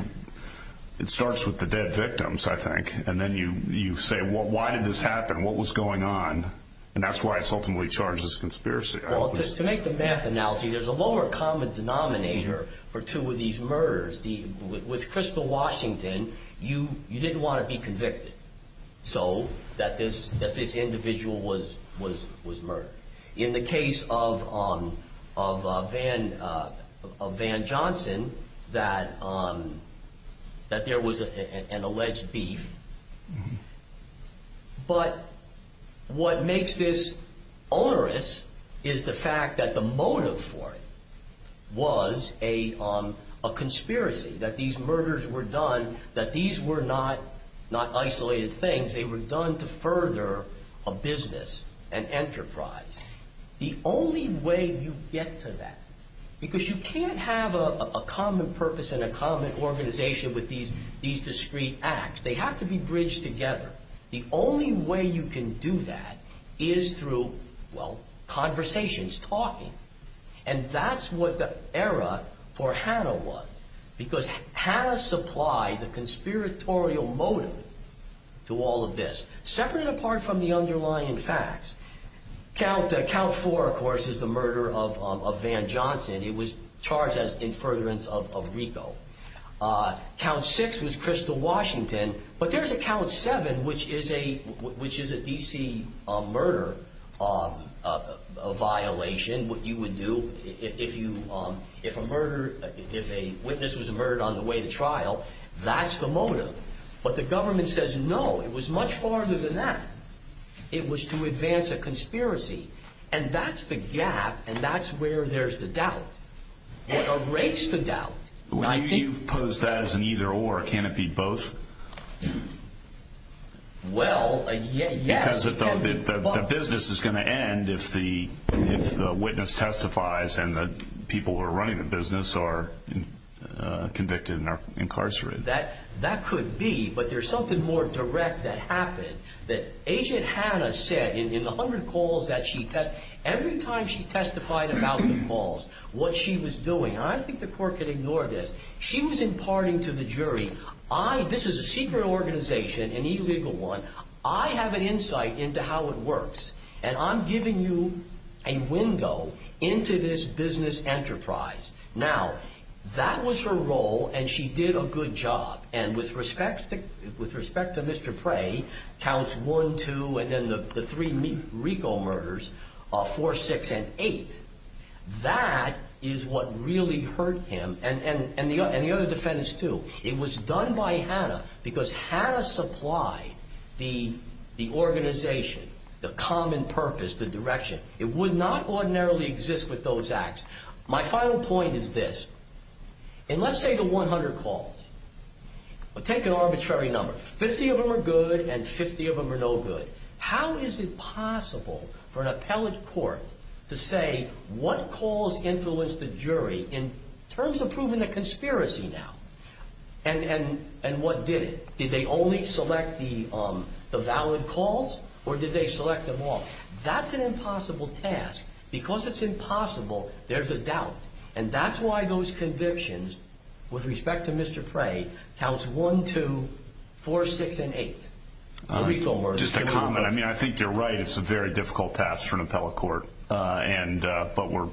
it starts with the dead victims, I think. And then you say, well, why did this happen? What was going on? And that's why it's ultimately charged as a conspiracy. Well, just to make the math analogy, there's a lower common denominator for two of these murders. With Crystal Washington, you didn't want to be convicted, so that this individual was murdered. In the case of Van Johnson, that there was an alleged beef. But what makes this onerous is the fact that the motive for it was a conspiracy, that these murders were done, that these were not isolated things. They were done to further a business, an enterprise. The only way you get to that, because you can't have a common purpose and a common organization with these discrete acts. They have to be bridged together. The only way you can do that is through, well, conversations, talking. And that's what the era for Hanna was, because Hanna supplied the conspiratorial motive to all of this, separate and apart from the underlying facts. Count 4, of course, is the murder of Van Johnson. It was charged as an infuriation of Rico. Count 6 was Crystal Washington. But there's a Count 7, which is a DC murder violation. That's what you would do if a witness was murdered on the way to trial. That's the motive. But the government says, no, it was much farther than that. It was to advance a conspiracy. And that's the gap, and that's where there's the doubt. It erodes the doubt. Would you pose that as an either or? Can it be both? Well, yes. Because the business is going to end if the witness testifies and the people who are running the business are convicted and are incarcerated. That could be. But there's something more direct that happened, that Agent Hanna said in 100 calls that she testified. Every time she testified about the calls, what she was doing, and I think the court can ignore this, she was imparting to the jury. This is a secret organization, an illegal one. I have an insight into how it works, and I'm giving you a window into this business enterprise. Now, that was her role, and she did a good job. And with respect to Mr. Prey, Counts 1, 2, and then the three Rico murders, 4, 6, and 8, that is what really hurt him, and the other defendants too. It was done by Hanna because Hanna supplied the organization, the common purpose, the direction. It would not ordinarily exist with those acts. My final point is this. In, let's say, the 100 calls, take an arbitrary number. 50 of them are good and 50 of them are no good. How is it possible for an appellate court to say what calls influenced the jury, in terms of proving a conspiracy now, and what did it? Did they only select the valid calls, or did they select them all? That's an impossible task. Because it's impossible, there's a doubt. And that's why those convictions, with respect to Mr. Prey, Counts 1, 2, 4, 6, and 8. Just a comment. I mean, I think you're right. It's a very difficult task for an appellate court. But we're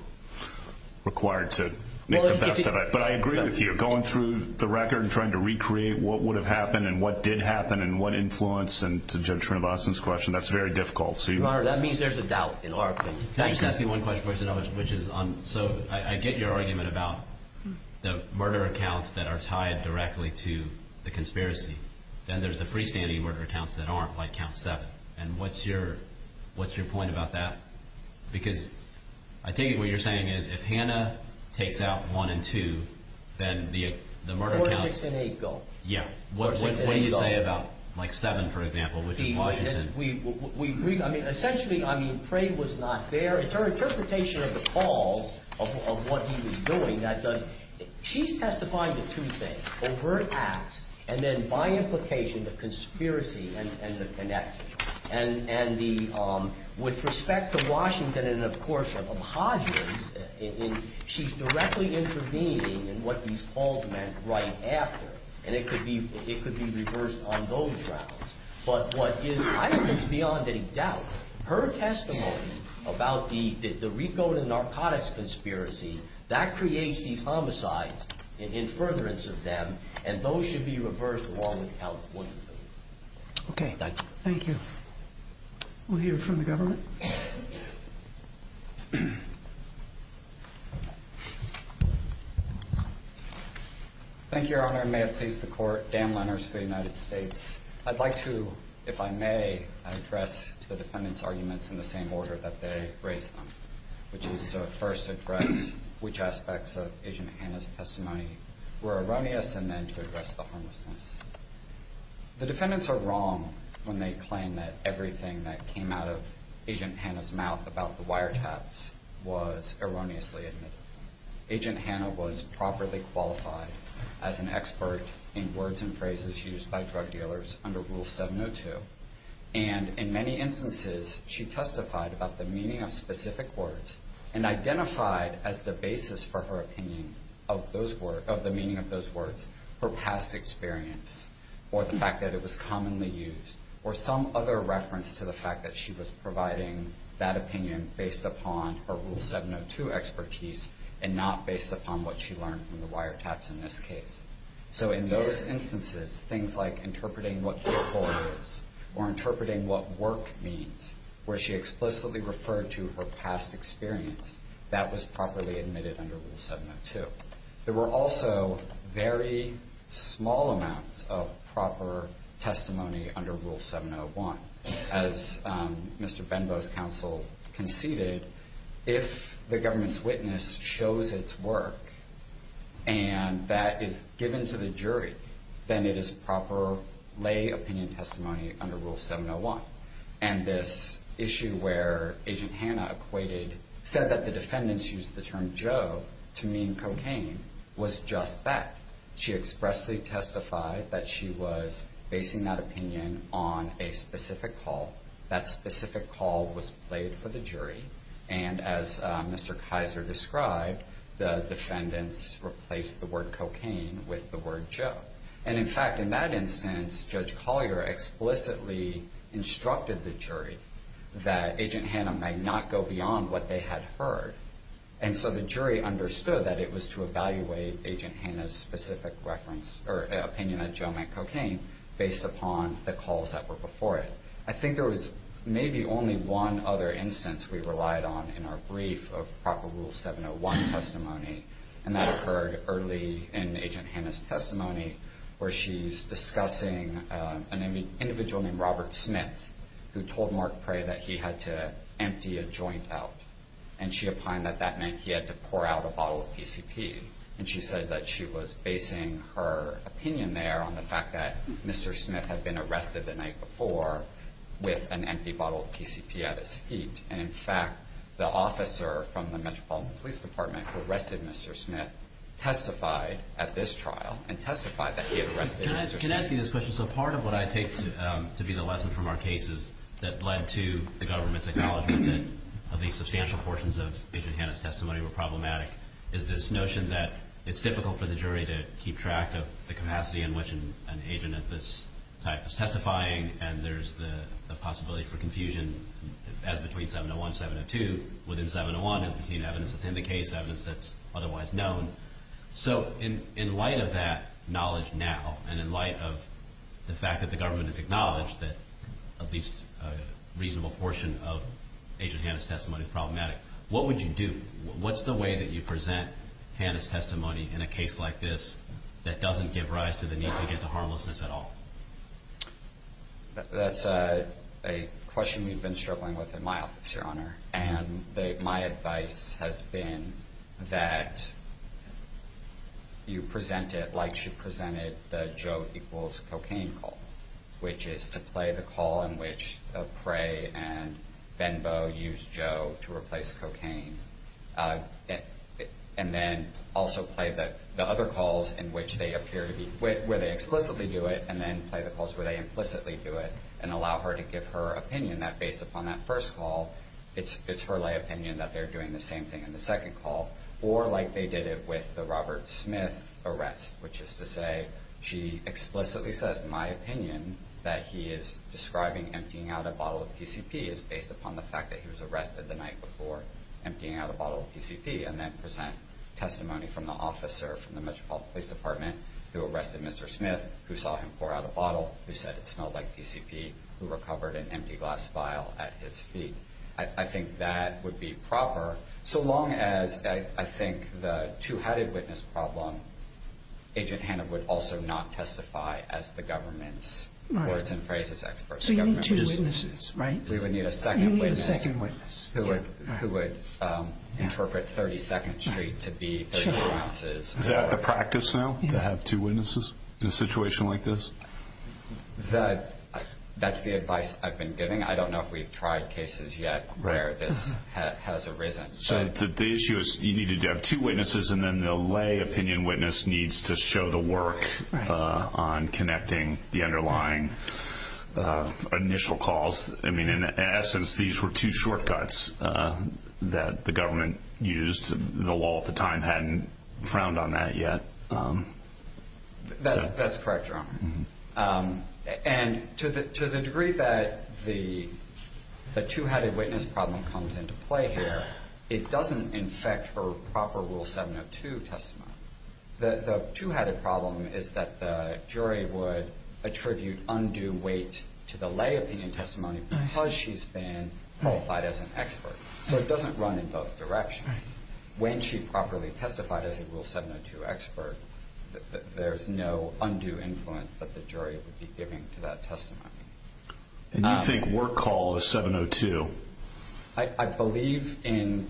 required to make the best of it. But I agree with you. Going through the record and trying to recreate what would have happened and what did happen and what influenced, and to Judge Trinivasan's question, that's very difficult. That means there's a doubt in our opinion. Can I just ask you one question, which is, so I get your argument about the murder accounts that are tied directly to the conspiracy. Then there's the freestanding murder accounts that aren't, like Count 7. And what's your point about that? Because I take it what you're saying is, if Hannah takes out 1 and 2, then the murder accounts... 4, 6, and 8 go. Yeah. What do you say about, like, 7, for example, which is Washington? We agree. I mean, essentially, I mean, Prey was not there, and her interpretation of the calls, of what he was doing, that doesn't... She's testifying to two things. In her acts, and then by implication, the conspiracy and the connection. And the, with respect to Washington and, of course, of Hodgins, she's directly intervening in what these calls meant right after. And it could be reversed on those grounds. But what is, I think, beyond any doubt, her testimony about the recode and narcotics conspiracy, that creates these homicides in furtherance of them, and those should be reversed along with California. Okay. Thank you. We'll hear from the government. Thank you, Your Honor. May it please the Court. Dan Leonard, State of the United States. I'd like to, if I may, address the defendants' arguments in the same order that they raised them. Which is to, at first, address which aspects of Agent Hanna's testimony were erroneous, and then to address the harmlessness. The defendants are wrong when they claim that everything that came out of Agent Hanna's mouth about the wiretaps was erroneously admitted. Agent Hanna was properly qualified as an expert in words and phrases used by drug dealers under Rule 702. And in many instances, she testified about the meaning of specific words, and identified as the basis for her opinion of the meaning of those words, her past experience, or the fact that it was commonly used, or some other reference to the fact that she was providing that opinion based upon her Rule 702 expertise, and not based upon what she learned from the wiretaps in this case. So in those instances, things like interpreting what decor is, or interpreting what work means, where she explicitly referred to her past experience, that was properly admitted under Rule 702. There were also very small amounts of proper testimony under Rule 701. As Mr. Benbow's counsel conceded, if the government's witness shows its work, and that is given to the jury, then it is proper lay opinion testimony under Rule 701. And this issue where Agent Hanna said that the defendants used the term Joe to mean cocaine was just that. She expressly testified that she was basing that opinion on a specific call. That specific call was played for the jury. And as Mr. Kaiser described, the defendants replaced the word cocaine with the word Joe. And, in fact, in that instance, Judge Collier explicitly instructed the jury that Agent Hanna might not go beyond what they had heard. And so the jury understood that it was to evaluate Agent Hanna's specific reference, or opinion that Joe meant cocaine, based upon the calls that were before it. I think there was maybe only one other instance we relied on in our brief of proper Rule 701 testimony, and that occurred early in Agent Hanna's testimony, where she's discussing an individual named Robert Smith, who told Mark Prey that he had to empty a joint out. And she opined that that meant he had to pour out a bottle of PCP. And she said that she was basing her opinion there on the fact that Mr. Smith had been arrested the night before with an empty bottle of PCP out of his seat. And, in fact, the officer from the Metropolitan Police Department who arrested Mr. Smith testified at this trial and testified that he had arrested Mr. Smith. Can I ask you this question? So part of what I take to be the lesson from our case is that led to the government's acknowledgement that at least substantial portions of Agent Hanna's testimony were problematic. There's this notion that it's difficult for the jury to keep track of the capacity in which an agent of this type is testifying, and there's the possibility for confusion as between 701 and 702. Within 701, we've seen evidence that indicates evidence that's otherwise known. So in light of that knowledge now and in light of the fact that the government has acknowledged that at least a reasonable portion of Agent Hanna's testimony is problematic, what would you do? What's the way that you present Hanna's testimony in a case like this that doesn't give rise to the need to get to harmlessness at all? That's a question you've been struggling with in my office, Your Honor, and my advice has been that you present it like you presented the Joe equals cocaine call, which is to play the call in which Prey and Benbow use Joe to replace cocaine, and then also play the other calls where they explicitly do it and then play the calls where they implicitly do it and allow her to give her opinion that, based upon that first call, it's her lay opinion that they're doing the same thing in the second call, or like they did it with the Robert Smith arrest, which is to say she explicitly says my opinion that he is describing emptying out a bottle of DCP is based upon the fact that he was arrested the night before emptying out a bottle of DCP, and then present testimony from the officer from the Metropolitan Police Department who arrested Mr. Smith, who saw him pour out a bottle, who said it smelled like DCP, who recovered an empty glass vial at his feet. I think that would be proper, so long as, I think, the two-headed witness problem, Agent Hanna would also not testify as the government's words and phrases expert. So you need two witnesses, right? You would need a second witness who would interpret 32nd Street to be 32 ounces. Is that the practice now, to have two witnesses in a situation like this? That's the advice I've been giving. I don't know if we've tried cases yet where this has arisen. So the issue is you need to have two witnesses, and then the lay opinion witness needs to show the work on connecting the underlying initial calls. I mean, in essence, these were two shortcuts that the government used. The law at the time hadn't frowned on that yet. That's correct, John. And to the degree that the two-headed witness problem comes into play here, it doesn't infect her proper Rule 702 testimony. The two-headed problem is that the jury would attribute undue weight to the lay opinion testimony because she's been qualified as an expert. So it doesn't run in both directions. When she properly testified as a Rule 702 expert, there's no undue influence that the jury would be giving to that testimony. And you think work call is 702? I believe in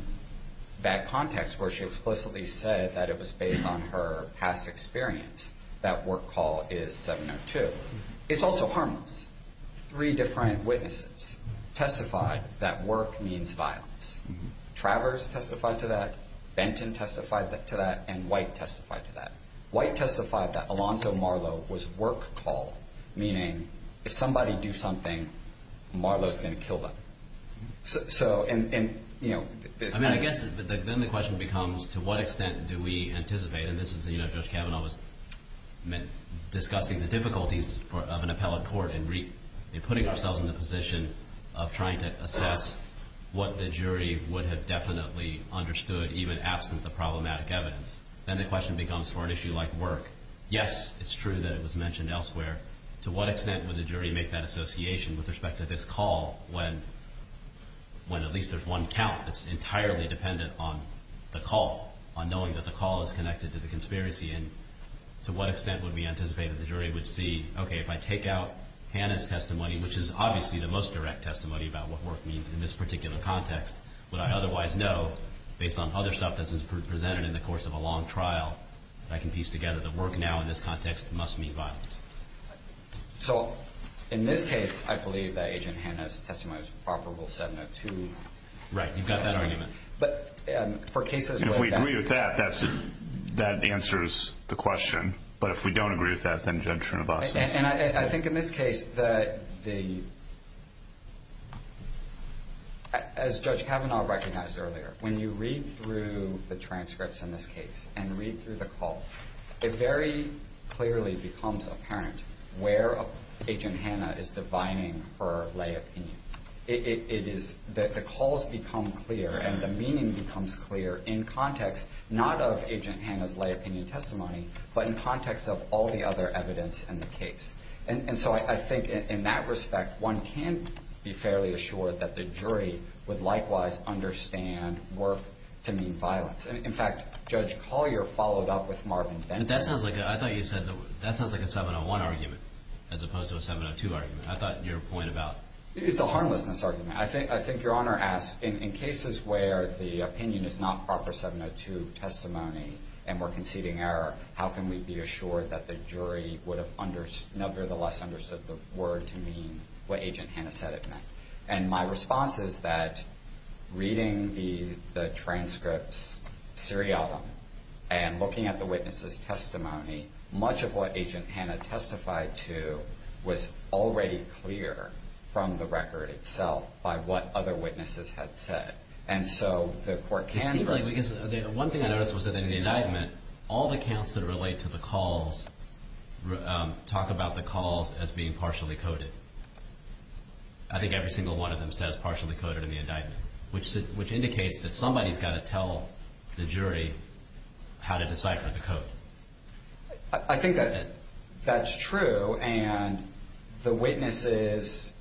that context where she explicitly said that it was based on her past experience, that work call is 702. It's also harmless. Three different witnesses testified that work means violence. Travers testified to that, Benton testified to that, and White testified to that. White testified that Alonzo Marlowe was work call, meaning if somebody do something, Marlowe's going to kill them. So, and, you know. I mean, I guess then the question becomes to what extent do we anticipate, and this is, you know, Judge Kavanaugh was discussing the difficulties of an appellate court and putting ourselves in the position of trying to assess what the jury would have definitely understood even asked with the problematic evidence. Then the question becomes for an issue like work. Yes, it's true that it was mentioned elsewhere. To what extent would the jury make that association with respect to this call when at least there's one count that's entirely dependent on the call, on knowing that the call is connected to the conspiracy, and to what extent would we anticipate that the jury would see, okay, if I take out Hanna's testimony, which is obviously the most direct testimony about what work means in this particular context, would I otherwise know based on other stuff that's been presented in the course of a long trial that I can piece together that work now in this context must mean violence? So, in this case, I believe that Agent Hanna's testimony is probable 702. Right, you've got that argument. But for cases where that's... If we agree with that, that answers the question. But if we don't agree with that, then Judge Trinovasa... And I think in this case that the... As Judge Kavanaugh recognized earlier, when you read through the transcripts in this case and read through the call, it very clearly becomes apparent where Agent Hanna is defining her lay opinion. It is that the calls become clear and the meaning becomes clear in context, not of Agent Hanna's lay opinion testimony, but in context of all the other evidence in the case. And so I think in that respect, one can be fairly assured that the jury would likewise understand work to mean violence. In fact, Judge Collier followed up with Marvin Denton. That sounds like a 701 argument as opposed to a 702 argument. I thought your point about... It's a harmlessness argument. I think Your Honor asked, in cases where the opinion is not proper 702 testimony and we're conceding error, how can we be assured that the jury would have nevertheless understood the word to mean what Agent Hanna said it meant? And my response is that reading the transcripts serial and looking at the witness's testimony, much of what Agent Hanna testified to was already clear from the record itself by what other witnesses had said. And so the court can... One thing I noticed was that in the indictment, all the counts that relate to the calls talk about the calls as being partially coded. I think every single one of them says partially coded in the indictment, which indicates that somebody's got to tell the jury how to decipher the code. I think that's true, and the witnesses...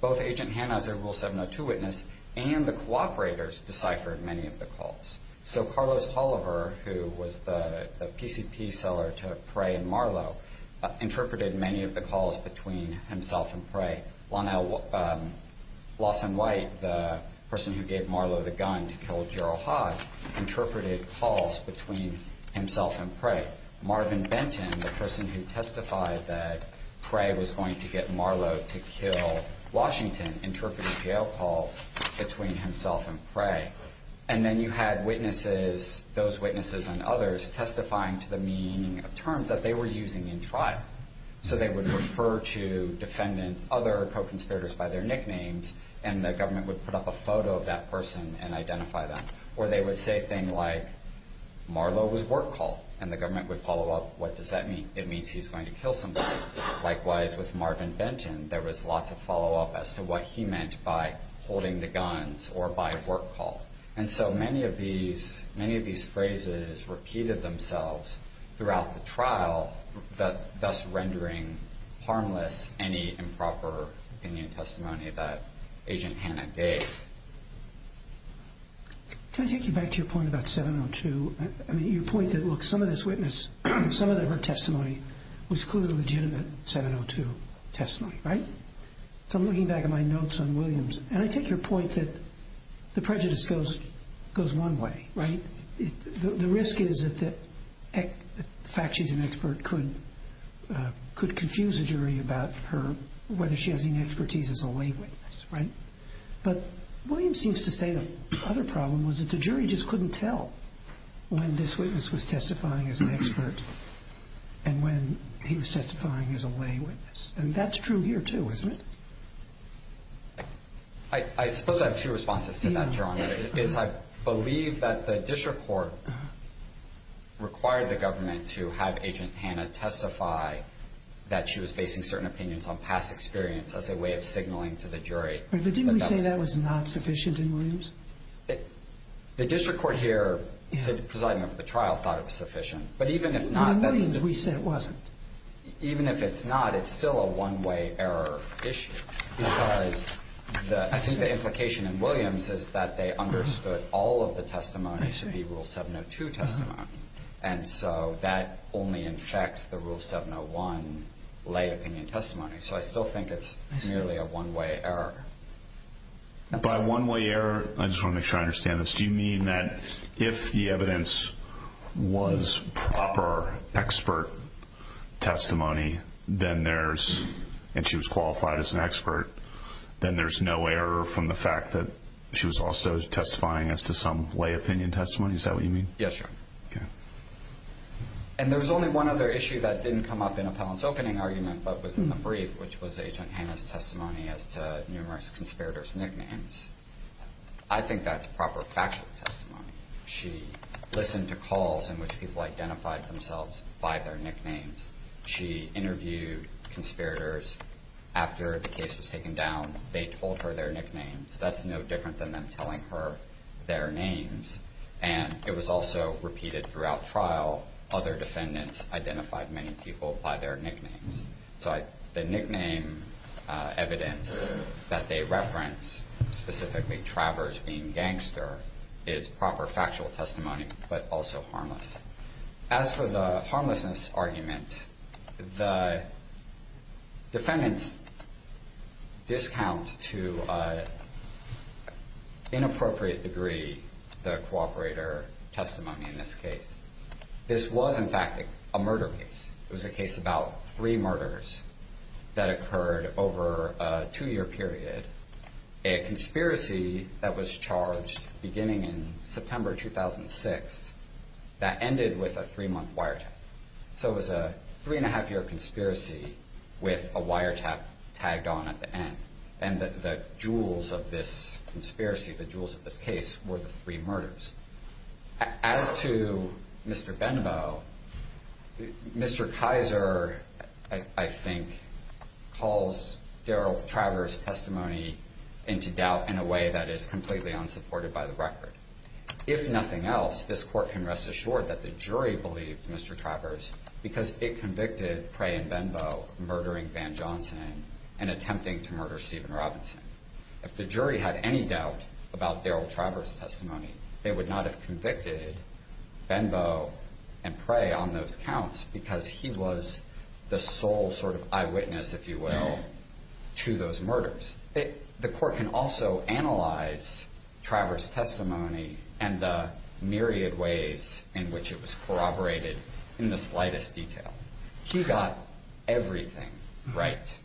Both Agent Hanna, the rule 702 witness, and the cooperators deciphered many of the calls. So Carlos Toliver, who was the PCP seller to Prey and Marlow, and Lawson White, the person who gave Marlow the gun to kill Gerald Hodge, interpreted calls between himself and Prey. Marvin Benton, the person who testified that Prey was going to get Marlow to kill Washington, interpreted jail calls between himself and Prey. And then you had witnesses, those witnesses and others, testifying to the meaning of terms that they were using in trial. So they would refer to defendants, other co-conspirators by their nicknames, and the government would put up a photo of that person and identify them. Or they would say a thing like, Marlow was work called, and the government would follow up, what does that mean? It means he's going to kill somebody. Likewise with Marvin Benton, there was lots of follow-up as to what he meant by holding the guns or by work call. And so many of these phrases repeated themselves throughout the trial, thus rendering harmless any improper opinion testimony that Agent Hanna gave. Can I take you back to your point about 702? I mean, your point that, look, some of this witness, some of their testimony was clearly legitimate 702 testimony, right? So I'm looking back at my notes on Williams, and I take your point that the prejudice goes one way, right? The risk is that the fact she's an expert could confuse a jury about whether she has any expertise as a lay witness, right? But Williams seems to say the other problem was that the jury just couldn't tell when this witness was testifying as an expert and when he was testifying as a lay witness. I mean, that's true here too, isn't it? I suppose I have two responses to that, Your Honor. One is I believe that the district court required the government to have Agent Hanna testify that she was basing certain opinions on past experience as a way of signaling to the jury. But didn't we say that was not sufficient in Williams? The district court here, presiding over the trial, thought it was sufficient. In Williams, we said it wasn't. Even if it's not, it's still a one-way error issue. Because I think the implication in Williams is that they understood all of the testimony to be rule 702 testimony. And so that only infects the rule 701 lay opinion testimony. So I still think it's merely a one-way error. By one-way error, I just want to make sure I understand this. Do you mean that if the evidence was proper expert testimony, and she was qualified as an expert, then there's no error from the fact that she was also testifying as to some lay opinion testimony? Is that what you mean? Yes, Your Honor. And there's only one other issue that didn't come up in Appellant's opening argument, but was in the brief, which was Agent Hanna's testimony as to numerous conspirators' nicknames. I think that's proper factual testimony. She listened to calls in which people identified themselves by their nicknames. She interviewed conspirators after the case was taken down. They told her their nicknames. That's no different than them telling her their names. And it was also repeated throughout trial. Other defendants identified many people by their nicknames. So the nickname evidence that they referenced, specifically Travers being gangster, is proper factual testimony, but also harmless. As for the harmlessness argument, the defendants discount to an inappropriate degree the cooperator testimony in this case. This was, in fact, a murder case. It was a case about three murders that occurred over a two-year period. A conspiracy that was charged beginning in September 2006 that ended with a three-month wiretap. So it was a three-and-a-half-year conspiracy with a wiretap tagged on at the end. And the jewels of this conspiracy, the jewels of this case, were the three murders. As to Mr. Benbow, Mr. Kaiser, I think, calls Daryl Travers' testimony into doubt in a way that is completely unsupported by the record. If nothing else, this court can rest assured that the jury believed Mr. Travers because it convicted Prey and Benbow of murdering Van Johnson and attempting to murder Steven Robinson. If the jury had any doubt about Daryl Travers' testimony, they would not have convicted Benbow and Prey on those counts because he was the sole sort of eyewitness, if you will, to those murders. The court can also analyze Travers' testimony and the myriad ways in which it was corroborated in the slightest detail. He got everything right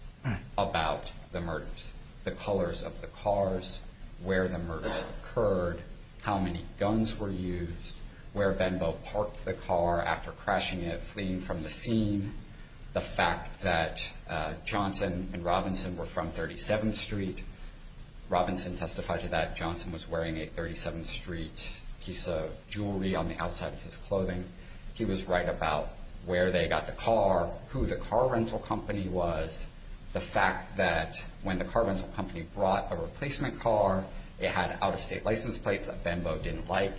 about the murders. The colors of the cars, where the murders occurred, how many guns were used, where Benbow parked the car after crashing it, fleeing from the scene, the fact that Johnson and Robinson were from 37th Street. Robinson testified to that. Johnson was wearing a 37th Street piece of jewelry on the outside of his clothing. He was right about where they got the car, who the car rental company was, the fact that when the car rental company brought a replacement car, it had an out-of-state license plate that Benbow didn't like,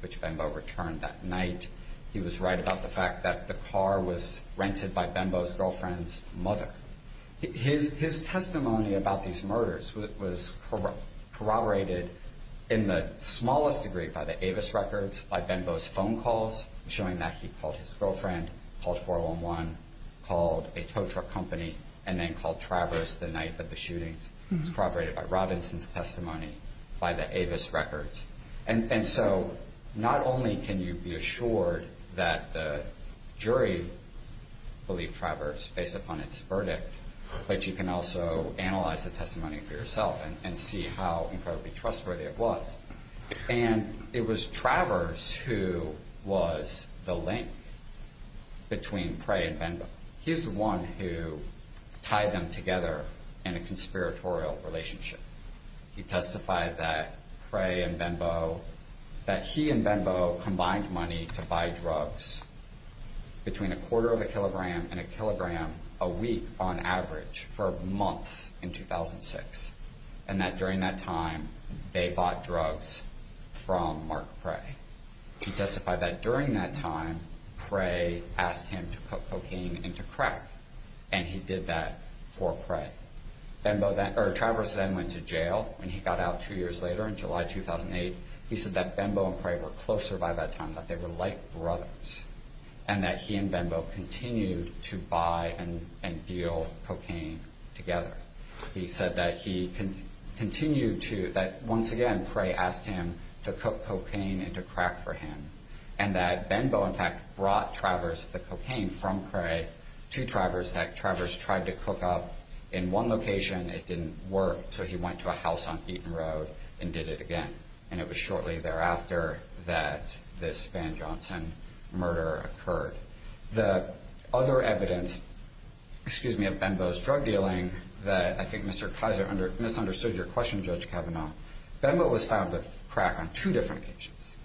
which Benbow returned that night. He was right about the fact that the car was rented by Benbow's girlfriend's mother. His testimony about these murders was corroborated in the smallest degree by the Avis records, by Benbow's phone calls, showing that he called his girlfriend, called 411, called a tow truck company, and then called Travers the night of the shooting. It was corroborated by Robinson's testimony, by the Avis records. And so not only can you be assured that the jury believed Travers based upon its verdict, but you can also analyze the testimony for yourself and see how incredibly trustworthy it was. And it was Travers who was the link between Prey and Benbow. He's the one who tied them together in a conspiratorial relationship. He testified that Prey and Benbow, that he and Benbow combined money to buy drugs between a quarter of a kilogram and a kilogram a week on average for months in 2006, and that during that time they bought drugs from Mark Prey. He testified that during that time Prey asked him to put cocaine into crack, and he did that for Prey. Travers then went to jail, and he got out two years later in July 2008. He said that Benbow and Prey were closer by that time, that they were like brothers, and that he and Benbow continued to buy and deal cocaine together. He said that he continued to, that once again Prey asked him to put cocaine into crack for him, and that Benbow in fact brought Travers the cocaine from Prey to Travers, that Travers tried to cook up in one location, it didn't work, so he went to a house on Eaton Road and did it again. And it was shortly thereafter that this Van Johnson murder occurred. The other evidence of Benbow's drug dealing that I think Mr. Kaiser misunderstood your question, Judge Kavanaugh, Benbow was found with crack on two different occasions.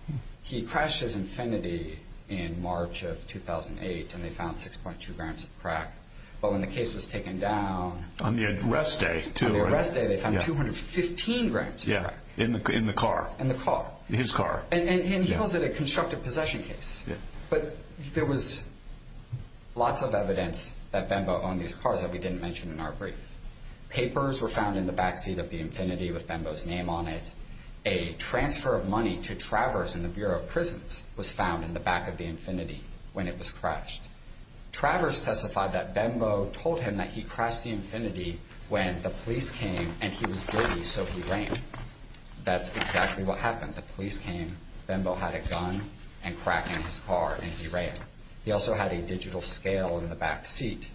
He crashed his Infiniti in March of 2008, and they found 6.2 grams of crack. But when the case was taken down... On the arrest day, too. On the arrest day they found 215 grams of crack. In the car. In the car. His car. And he calls it a constructive possession case. But there was lots of evidence that Benbow owned these cars that we didn't mention in our brief. Papers were found in the backseat of the Infiniti with Benbow's name on it. A transfer of money to Travers in the Bureau of Prisons was found in the back of the Infiniti when it was crashed. Travers testified that Benbow told him that he crashed the Infiniti when the police came and he was guilty, so he ran. That's exactly what happened. The police came. Benbow had a gun and crack in his car and he ran. He also had a digital scale in the backseat.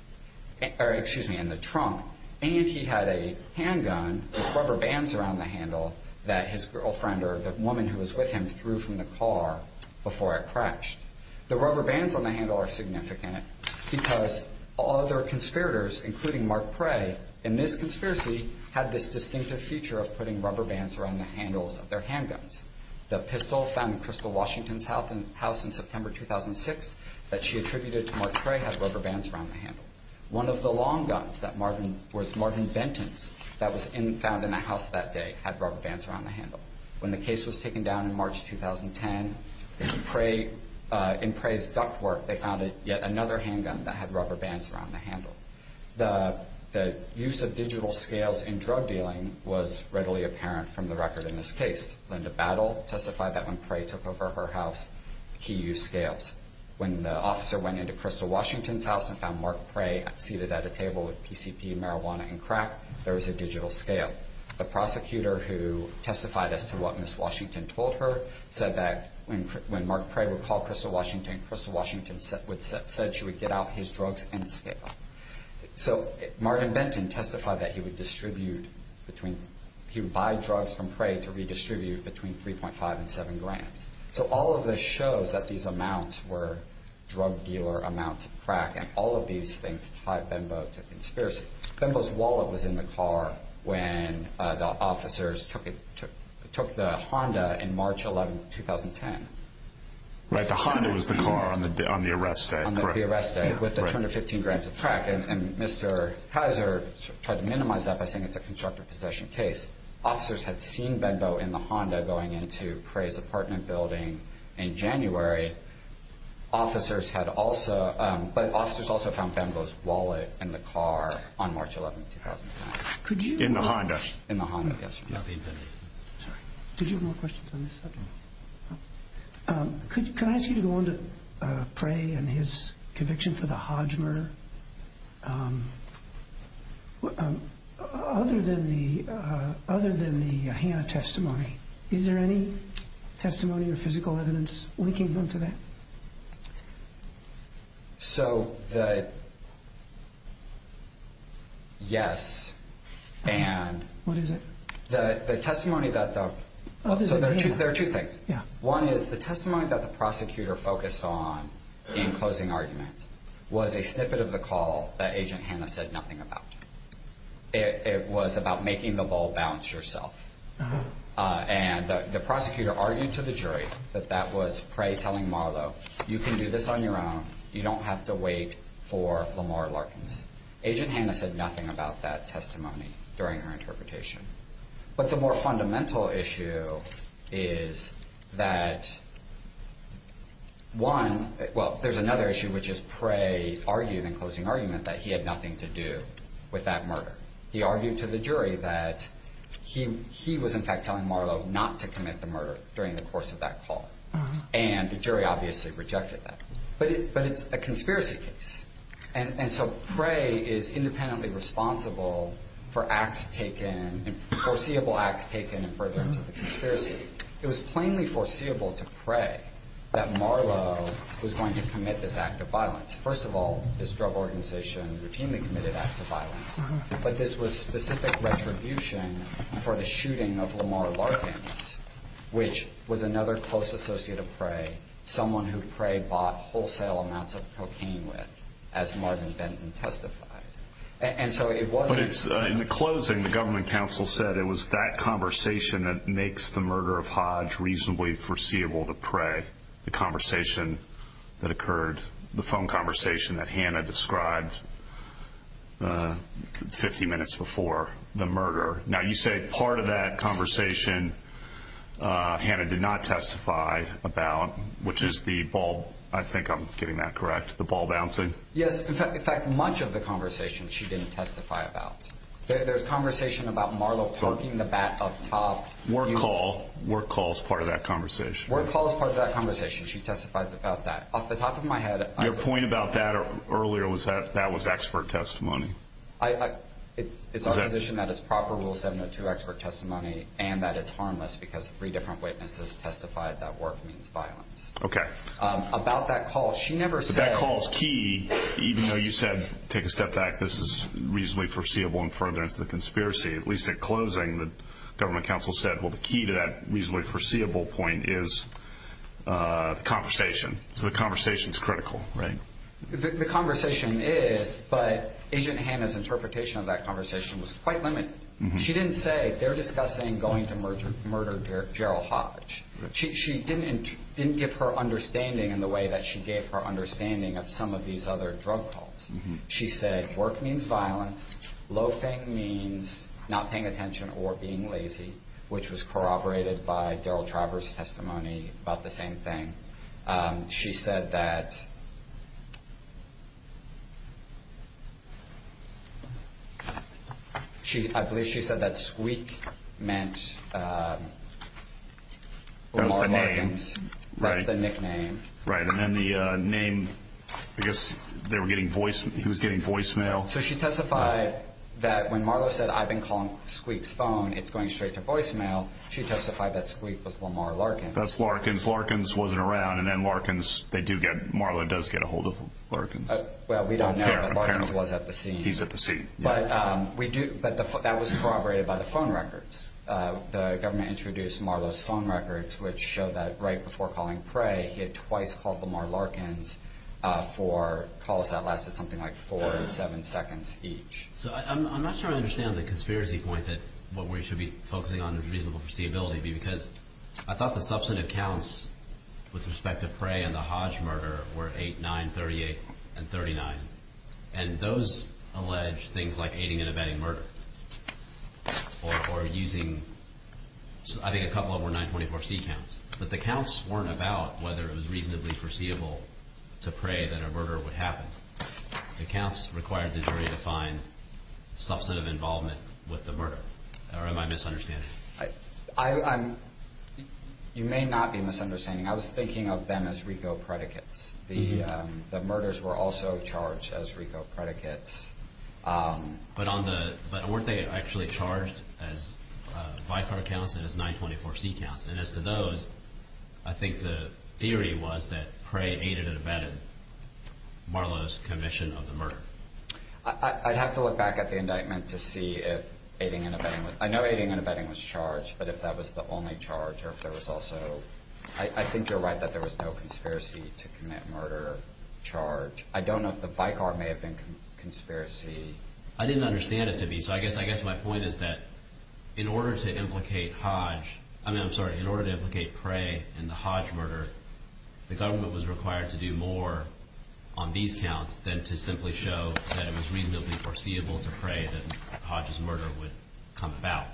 Or, excuse me, in the trunk. And he had a handgun with rubber bands around the handle that his girlfriend or the woman who was with him threw from the car before it crashed. The rubber bands on the handle are significant because all other conspirators, including Mark Prey, in this conspiracy, had this distinctive feature of putting rubber bands around the handles of their handguns. The pistol found in Crystal Washington's house in September 2006 that she attributed to Mark Prey had rubber bands around the handle. One of the long guns was Marvin Benton's that was found in the house that day had rubber bands around the handle. When the case was taken down in March 2010, in Prey's duct work, they found yet another handgun that had rubber bands around the handle. The use of digital scales in drug dealing was readily apparent from the record in this case. Linda Battle testified that when Prey took over her house, he used scales. When the officer went into Crystal Washington's house and found Mark Prey seated at a table with PCP, marijuana, and crack, there was a digital scale. The prosecutor who testified as to what Ms. Washington told her said that when Mark Prey would call Crystal Washington, Crystal Washington said she would get out his drugs in the scale. Marvin Benton testified that he would buy drugs from Prey to redistribute between 3.5 and 70 grand. All of this shows that these amounts were drug dealer amounts of crack. All of these things drive Benbo to conspiracy. Benbo's wallet was in the car when the officers took the Honda in March 2010. The Honda was the car on the arrest day? On the arrest day with the 215 grams of crack. Mr. Hazard tried to minimize that by saying it's a constructive possession case. Officers had seen Benbo in the Honda going into Prey's apartment building in January. But officers also found Benbo's wallet in the car on March 11, 2010. In the Honda? In the Honda, yes. Do you have more questions on this subject? Can I ask you to go on to Prey and his conviction for the Hodgmer? Other than the Hanna testimony, is there any testimony or physical evidence linking them to that? So, yes. What is it? There are two things. One is the testimony that the prosecutor focused on in closing arguments was a snippet of the call that Agent Hanna said nothing about. It was about making the ball bounce yourself. And the prosecutor argued to the jury that that was Prey telling Marlo, you can do this on your own. You don't have to wait for Lamar Larkins. Agent Hanna said nothing about that testimony during her interpretation. But the more fundamental issue is that one, well, there's another issue, which is Prey argued in closing argument that he had nothing to do with that murder. He argued to the jury that he was in fact telling Marlo not to commit the murder during the course of that call. And the jury obviously rejected that. But it's a conspiracy case. And so Prey is independently responsible for acts taken, foreseeable acts taken in the presence of the conspiracy. It was plainly foreseeable to Prey that Marlo was going to commit this act of violence. First of all, this drug organization routinely committed acts of violence. But this was specific retribution for the shooting of Lamar Larkins, which was another close associate of Prey, someone who Prey bought wholesale amounts of cocaine with, as Marvin Benton testified. But in the closing, the government counsel said it was that conversation that makes the murder of Hodge reasonably foreseeable to Prey, the conversation that occurred, the phone conversation that Hanna described 50 minutes before the murder. Now, you say part of that conversation Hanna did not testify about, which is the ball, I think I'm getting that correct, the ball bouncing. Yes, in fact, much of the conversation she didn't testify about. There's conversation about Marlo poking the bat up top. Work call. Work call is part of that conversation. Work call is part of that conversation. She testified about that. Off the top of my head. Your point about that earlier was that that was expert testimony. It's our position that it's proper rule 702 expert testimony and that it's harmless because three different witnesses testified that work means violence. Okay. About that call, she never said. That call's key, even though you said, take a step back, this is reasonably foreseeable and further into the conspiracy. At least at closing, the government counsel said, well, the key to that reasonably foreseeable point is conversation. So the conversation's critical, right? The conversation is, but Agent Hanna's interpretation of that conversation was quite limited. She didn't say, they're discussing going to murder Gerald Hodge. She didn't give her understanding in the way that she gave her understanding of some of these other drug calls. She said, work means violence, loafing means not paying attention or being lazy, which was corroborated by Gerald Travers' testimony about the same thing. She said that, I believe she said that Squeak meant Lamar Larkins. That's the nickname. Right, and then the name, I guess he was getting voicemail. So she testified that when Marlo said, I've been calling Squeak's phone, it's going straight to voicemail, she testified that Squeak was Lamar Larkins. That's Larkins. Larkins wasn't around, and then Larkins, they do get, Marlo does get a hold of Larkins. Well, we don't know, but Larkins was at the scene. He's at the scene. But we do, but that was corroborated by the phone records. The government introduced Marlo's phone records, which show that right before calling Craig, he had twice called Lamar Larkins for calls that lasted something like four to seven seconds each. So I'm not sure I understand the conspiracy point that what we should be focusing on is reasonable foreseeability, because I thought the substantive counts with respect to Prey and the Hodge murder were 8, 9, 38, and 39. And those allege things like aiding and abetting murder, or using, I think a couple of them were 924C counts. But the counts weren't about whether it was reasonably foreseeable to Prey that a murder would happen. The counts required the jury to find substantive involvement with the murder. Or am I misunderstanding? You may not be misunderstanding. I was thinking of them as RICO predicates. The murders were also charged as RICO predicates. But weren't they actually charged as by-card counts and as 924C counts? And as to those, I think the theory was that Prey aided and abetted Marlo's commission of the murder. I'd have to look back at the indictment to see if aiding and abetting was – I know aiding and abetting was charged, but if that was the only charge or if there was also – I think you're right that there was no conspiracy to commit murder charge. I don't know if the by-card may have been conspiracy. I didn't understand it to be – so I guess my point is that in order to implicate Hodge – I'm sorry, in order to implicate Prey in the Hodge murder, the government was required to do more on these counts than to simply show that it was reasonably foreseeable to Prey that Hodge's murder would come about.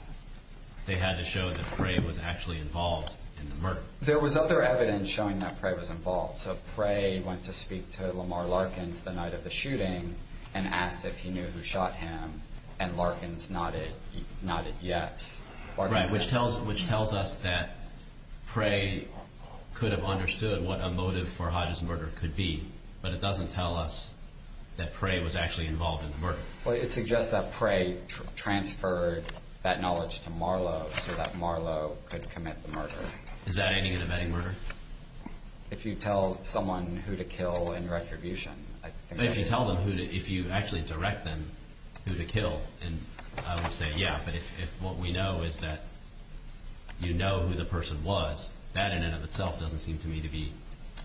They had to show that Prey was actually involved in the murder. There was other evidence showing that Prey was involved. So Prey went to speak to Lamar Larkins the night of the shooting and asked if he knew who shot him, and Larkins nodded yes. Right, which tells us that Prey could have understood what a motive for Hodge's murder could be, but it doesn't tell us that Prey was actually involved in the murder. Well, it suggests that Prey transferred that knowledge to Marlow so that Marlow could commit the murder. Is that aiding and abetting murder? If you tell someone who to kill in retribution. If you tell them who to – if you actually direct them who to kill, then I would say yeah, but if what we know is that you know who the person was, that in and of itself doesn't seem to me to be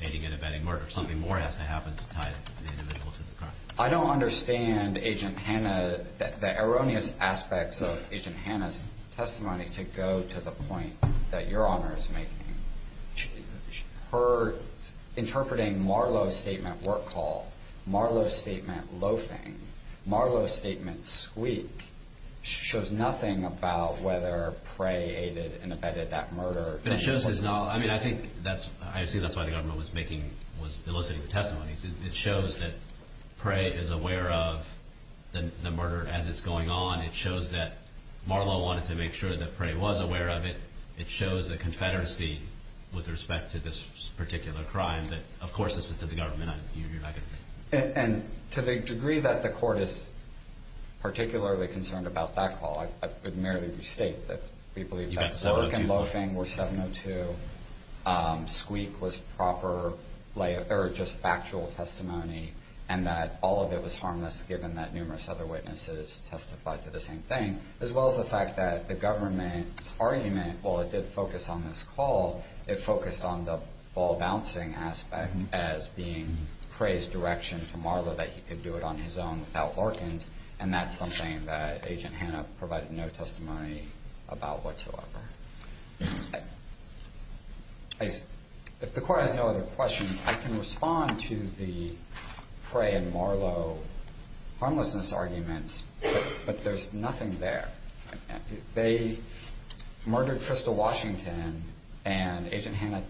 aiding and abetting murder. Something more has to happen to tie the individual to the crime. I don't understand Agent Hanna – the erroneous aspects of Agent Hanna's testimony to go to the point that Your Honor is making. Her interpreting Marlow's statement work call, Marlow's statement loafing, Marlow's statement squeak, shows nothing about whether Prey aided and abetted that murder. But it shows that it's not – I mean, I think that's – I see that's why the government was making – was eliciting the testimony. It shows that Prey is aware of the murder as it's going on. It shows that Marlow wanted to make sure that Prey was aware of it. It shows that confederacy with respect to this particular crime that, of course, this is to the government. You're right. And to the degree that the court is particularly concerned about that call, I could merely restate that we believe that – You've got several people –– loafing was 702, squeak was proper, or just factual testimony, and that all of it was harmless given that numerous other witnesses testified to the same thing, as well as the fact that the government's argument, while it did focus on this call, it focused on the ball bouncing aspect as being Prey's direction to Marlow that he could do it on his own without barking, and that's something that Agent Hanna provided no testimony about whatsoever. If the court has no other questions, I can respond to the Prey and Marlow harmlessness arguments, but there's nothing there. They murdered Crystal Washington, and Agent Hanna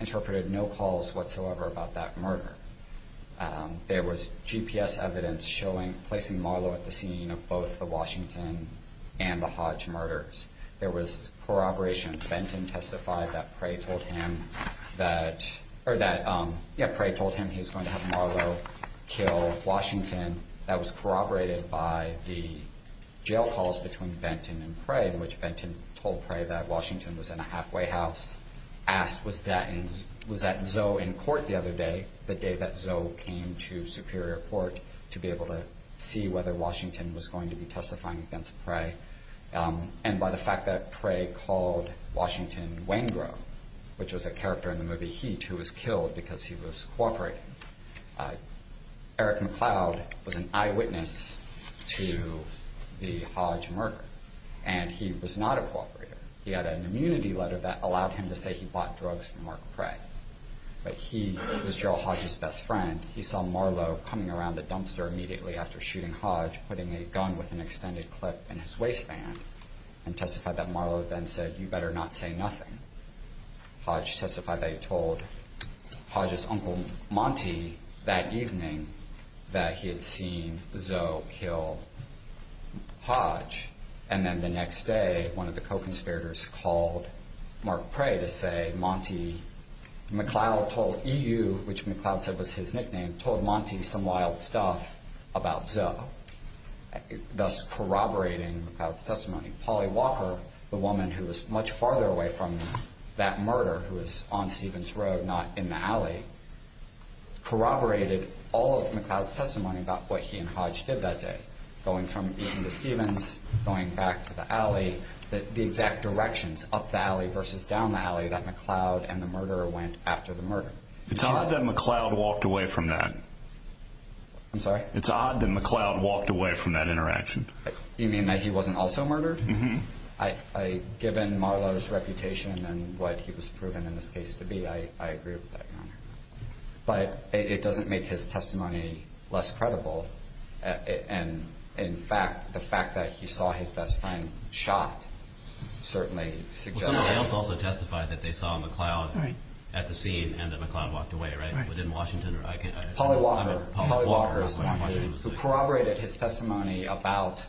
interpreted no calls whatsoever about that murder. There was GPS evidence showing – placing Marlow at the scene of both the Washington and the Hodge murders. There was corroboration. Benton testified that Prey told him he was going to have Marlow kill Washington. That was corroborated by the jail calls between Benton and Prey, in which Benton told Prey that Washington was in a halfway house, asked was that Zoe in court the other day, the day that Zoe came to Superior Court, to be able to see whether Washington was going to be testifying against Prey, and by the fact that Prey called Washington Wangrove, which was a character in the movie Heat, who was killed because he was cooperating. Eric McLeod was an eyewitness to the Hodge murder, and he was not a cooperator. He had an immunity letter that allowed him to say he bought drugs from Mark Prey, but he was Gerald Hodge's best friend. He saw Marlow coming around the dumpster immediately after shooting Hodge, putting a gun with an extended clip in his waistband, and testified that Marlow then said, you better not say nothing. Hodge testified that he told Hodge's uncle, Monty, that evening that he had seen Zoe kill Hodge, and then the next day one of the co-conspirators called Mark Prey to say, McLeod told E.U., which McLeod said was his nickname, told Monty some wild stuff about Zoe, thus corroborating McLeod's testimony. Polly Walker, the woman who was much farther away from that murder, who was on Stevens Road, not in the alley, corroborated all of McLeod's testimony about what he and Hodge did that day, going from E.U. to Stevens, going back to the alley, the exact directions, up the alley versus down the alley that McLeod and the murderer went after the murder. It's odd that McLeod walked away from that. I'm sorry? It's odd that McLeod walked away from that interaction. You mean that he wasn't also murdered? Mm-hmm. Given Marlow's reputation and what he was proven in this case to be, I agree with that. But it doesn't make his testimony less credible. And, in fact, the fact that he saw his best friend shot certainly suggests that. Well, no, Reynolds also testified that they saw McLeod at the scene and that McLeod walked away, right? Right. But didn't Washington? Polly Walker. Polly Walker. Who corroborated his testimony about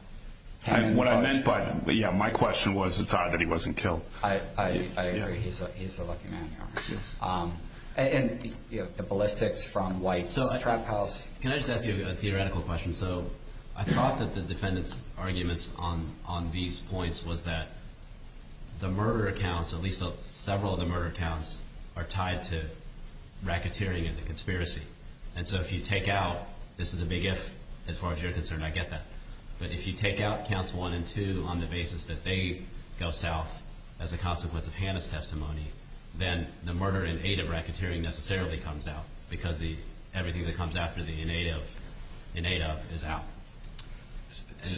him. What I meant by that, yeah, my question was it's odd that he wasn't killed. I agree. He's a lucky man. And, you know, the ballistics from White's trap house. Can I just ask you a theoretical question? So I thought that the defendant's arguments on these points was that the murder accounts, at least several of the murder accounts, are tied to racketeering and the conspiracy. And so if you take out this is a big if, as far as you're concerned, I get that. But if you take out counts one and two on the basis that they go south as a consequence of Hannah's testimony, then the murder in aid of racketeering necessarily comes out because everything that comes after the in aid of is out.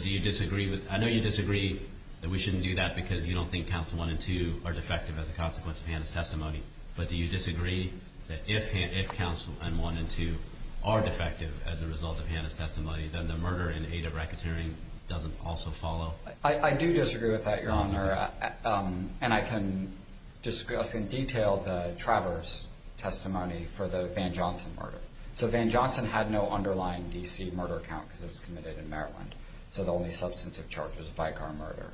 Do you disagree with I know you disagree that we shouldn't do that because you don't think counts one and two are defective as a consequence of Hannah's testimony. But do you disagree that if counts one and two are defective as a result of Hannah's testimony, then the murder in aid of racketeering doesn't also follow. I do disagree with that, Your Honor. And I can discuss in detail the Travers testimony for the Van Johnson murder. So Van Johnson had no underlying DC murder account because it was committed in Maryland. So the only substantive charge was a bygone murder.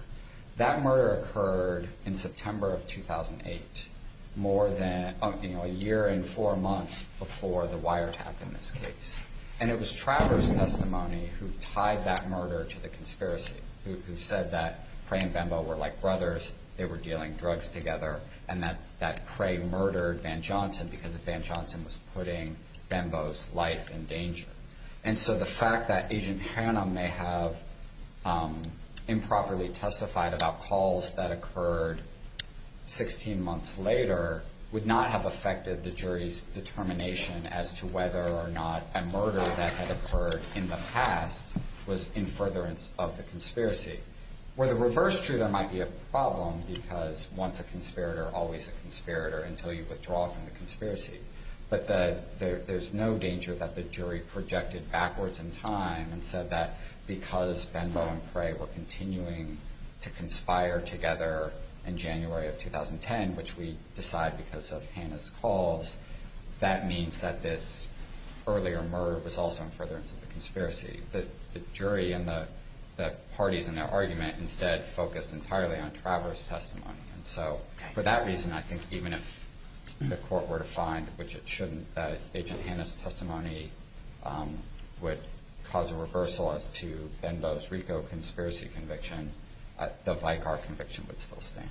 That murder occurred in September of 2008, more than a year and four months before the wiretap in this case. And it was Travers' testimony who tied that murder to the conspiracy, who said that Cray and Bambo were like brothers. They were dealing drugs together. And that Cray murdered Van Johnson because Van Johnson was putting Bambo's life in danger. And so the fact that Agent Hannah may have improperly testified about calls that occurred 16 months later would not have affected the jury's determination as to whether or not a murder that had occurred in the past was in furtherance of the conspiracy. Where the reverse truth might be a problem because once a conspirator, always a conspirator until you withdraw from the conspiracy. But there's no danger that the jury projected backwards in time and said that because Bambo and Cray were continuing to conspire together in January of 2010, which we decide because of Hannah's calls, that means that this earlier murder was also in furtherance of the conspiracy. The jury and the parties in their argument instead focused entirely on Travers' testimony. And so for that reason, I think even if the court were to find, which it shouldn't, that Agent Hannah's testimony would cause a reversal as to Bambo's RICO conspiracy conviction, the Vicar conviction would still stand.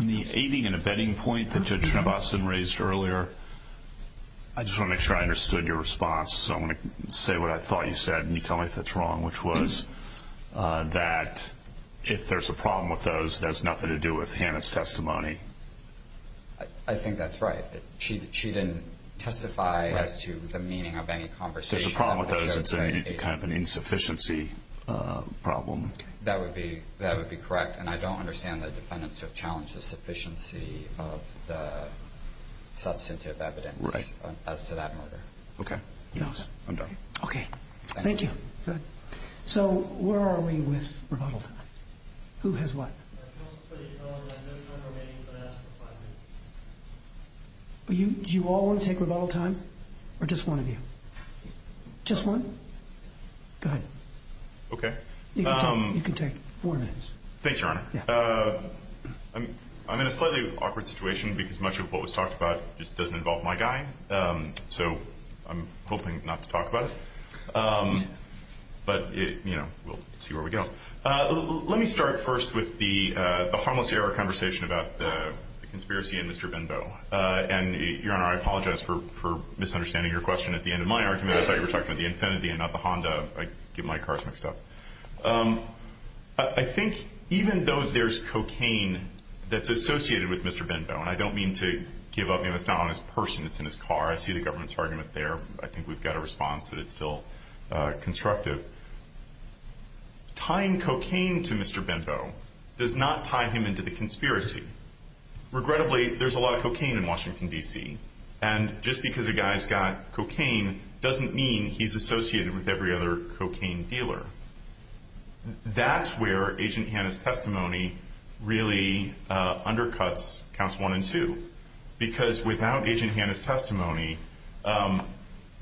In the aiding and abetting point that you had raised earlier, I just want to make sure I understood your response. So I'm going to say what I thought you said, and you tell me if it's wrong, which was that if there's a problem with those, that has nothing to do with Hannah's testimony. I think that's right. She didn't testify as to the meaning of any conversation. If there's a problem with those, it's kind of an insufficiency problem. That would be correct. And I don't understand that defendants have challenged the sufficiency of the substantive evidence as to that murder. Okay. I'm done. Okay. Thank you. So where are we with rebuttal time? Who has what? You all want to take rebuttal time, or just one of you? Just one? Go ahead. Okay. You can take four minutes. Thanks, Your Honor. I'm in a slightly awkward situation because much of what was talked about just doesn't involve my guy, so I'm hoping not to talk about it. But, you know, we'll see where we go. Let me start first with the harmless error conversation about the conspiracy and Mr. Benbow. And, Your Honor, I apologize for misunderstanding your question at the end of my argument. I thought you were talking about the Infiniti and not the Honda. I get my cards mixed up. I think even though there's cocaine that's associated with Mr. Benbow, and I don't mean to give up, and it's not on his person, it's in his car, I see the government's argument there. I think we've got a response, but it's still constructive. Tying cocaine to Mr. Benbow does not tie him into the conspiracy. Regrettably, there's a lot of cocaine in Washington, D.C., and just because a guy's got cocaine doesn't mean he's associated with every other cocaine dealer. That's where Agent Hanna's testimony really undercuts Counts 1 and 2, because without Agent Hanna's testimony,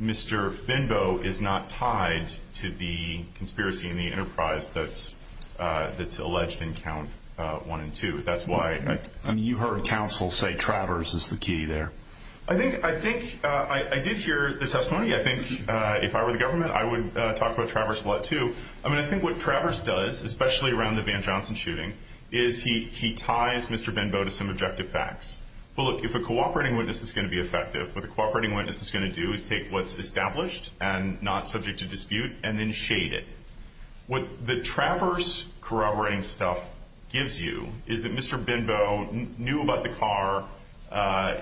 Mr. Benbow is not tied to the conspiracy in the enterprise that's alleged in Counts 1 and 2. You heard counsel say Travers is the key there. I did hear the testimony. I think if I were the government, I would talk about Travers a lot, too. I mean, I think what Travers does, especially around the Van Johnson shooting, is he ties Mr. Benbow to some objective facts. Well, look, if a cooperating witness is going to be effective, what the cooperating witness is going to do is take what's established and not subject to dispute and then shade it. What the Travers corroborating stuff gives you is that Mr. Benbow knew about the car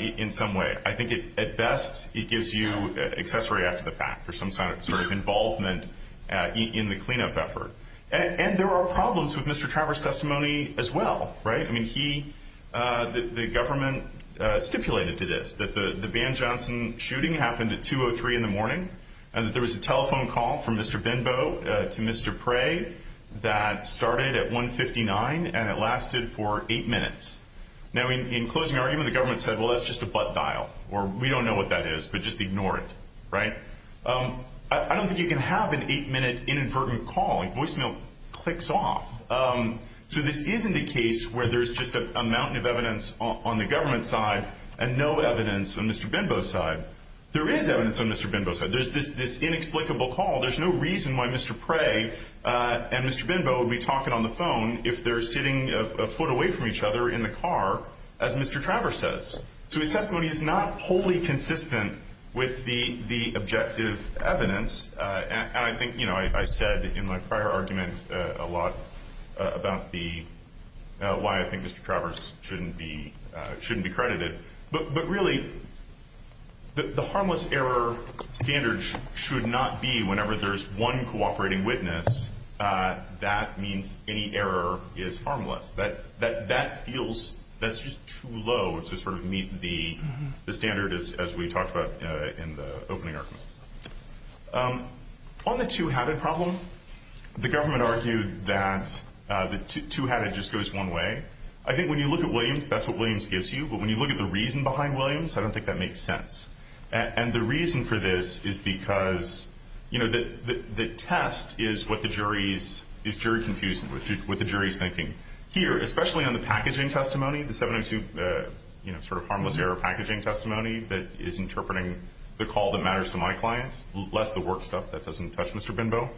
in some way. I think at best it gives you accessory after the fact or some sort of involvement in the cleanup effort. And there are problems with Mr. Travers' testimony as well, right? I mean, the government stipulated to this that the Van Johnson shooting happened at 2.03 in the morning and that there was a telephone call from Mr. Benbow to Mr. Prey that started at 1.59 and it lasted for eight minutes. Now, in closing argument, the government said, well, that's just a butt dial, or we don't know what that is, but just ignore it, right? I don't think you can have an eight-minute inadvertent call. A voicemail clicks off. So this isn't a case where there's just a mountain of evidence on the government side and no evidence on Mr. Benbow's side. There is evidence on Mr. Benbow's side. There's this inexplicable call. There's no reason why Mr. Prey and Mr. Benbow would be talking on the phone if they're sitting a foot away from each other in the car, as Mr. Travers says. So his testimony is not wholly consistent with the objective evidence. And I think, you know, I said in my prior argument a lot about why I think Mr. Travers shouldn't be credited. But really, the harmless error standard should not be whenever there's one cooperating witness, that means any error is harmless. That feels, that's just too low to sort of meet the standard as we talked about in the opening argument. On the two-hatted problem, the government argued that the two-hatted just goes one way. I think when you look at Williams, that's what Williams gives you. But when you look at the reason behind Williams, I don't think that makes sense. And the reason for this is because, you know, the test is what the jury's, is jury confusion, what the jury's thinking. Here, especially on the packaging testimony, the 702, you know, sort of harmless error packaging testimony that is interpreting the call that matters to my client, less the work stuff that doesn't touch Mr. Benbow.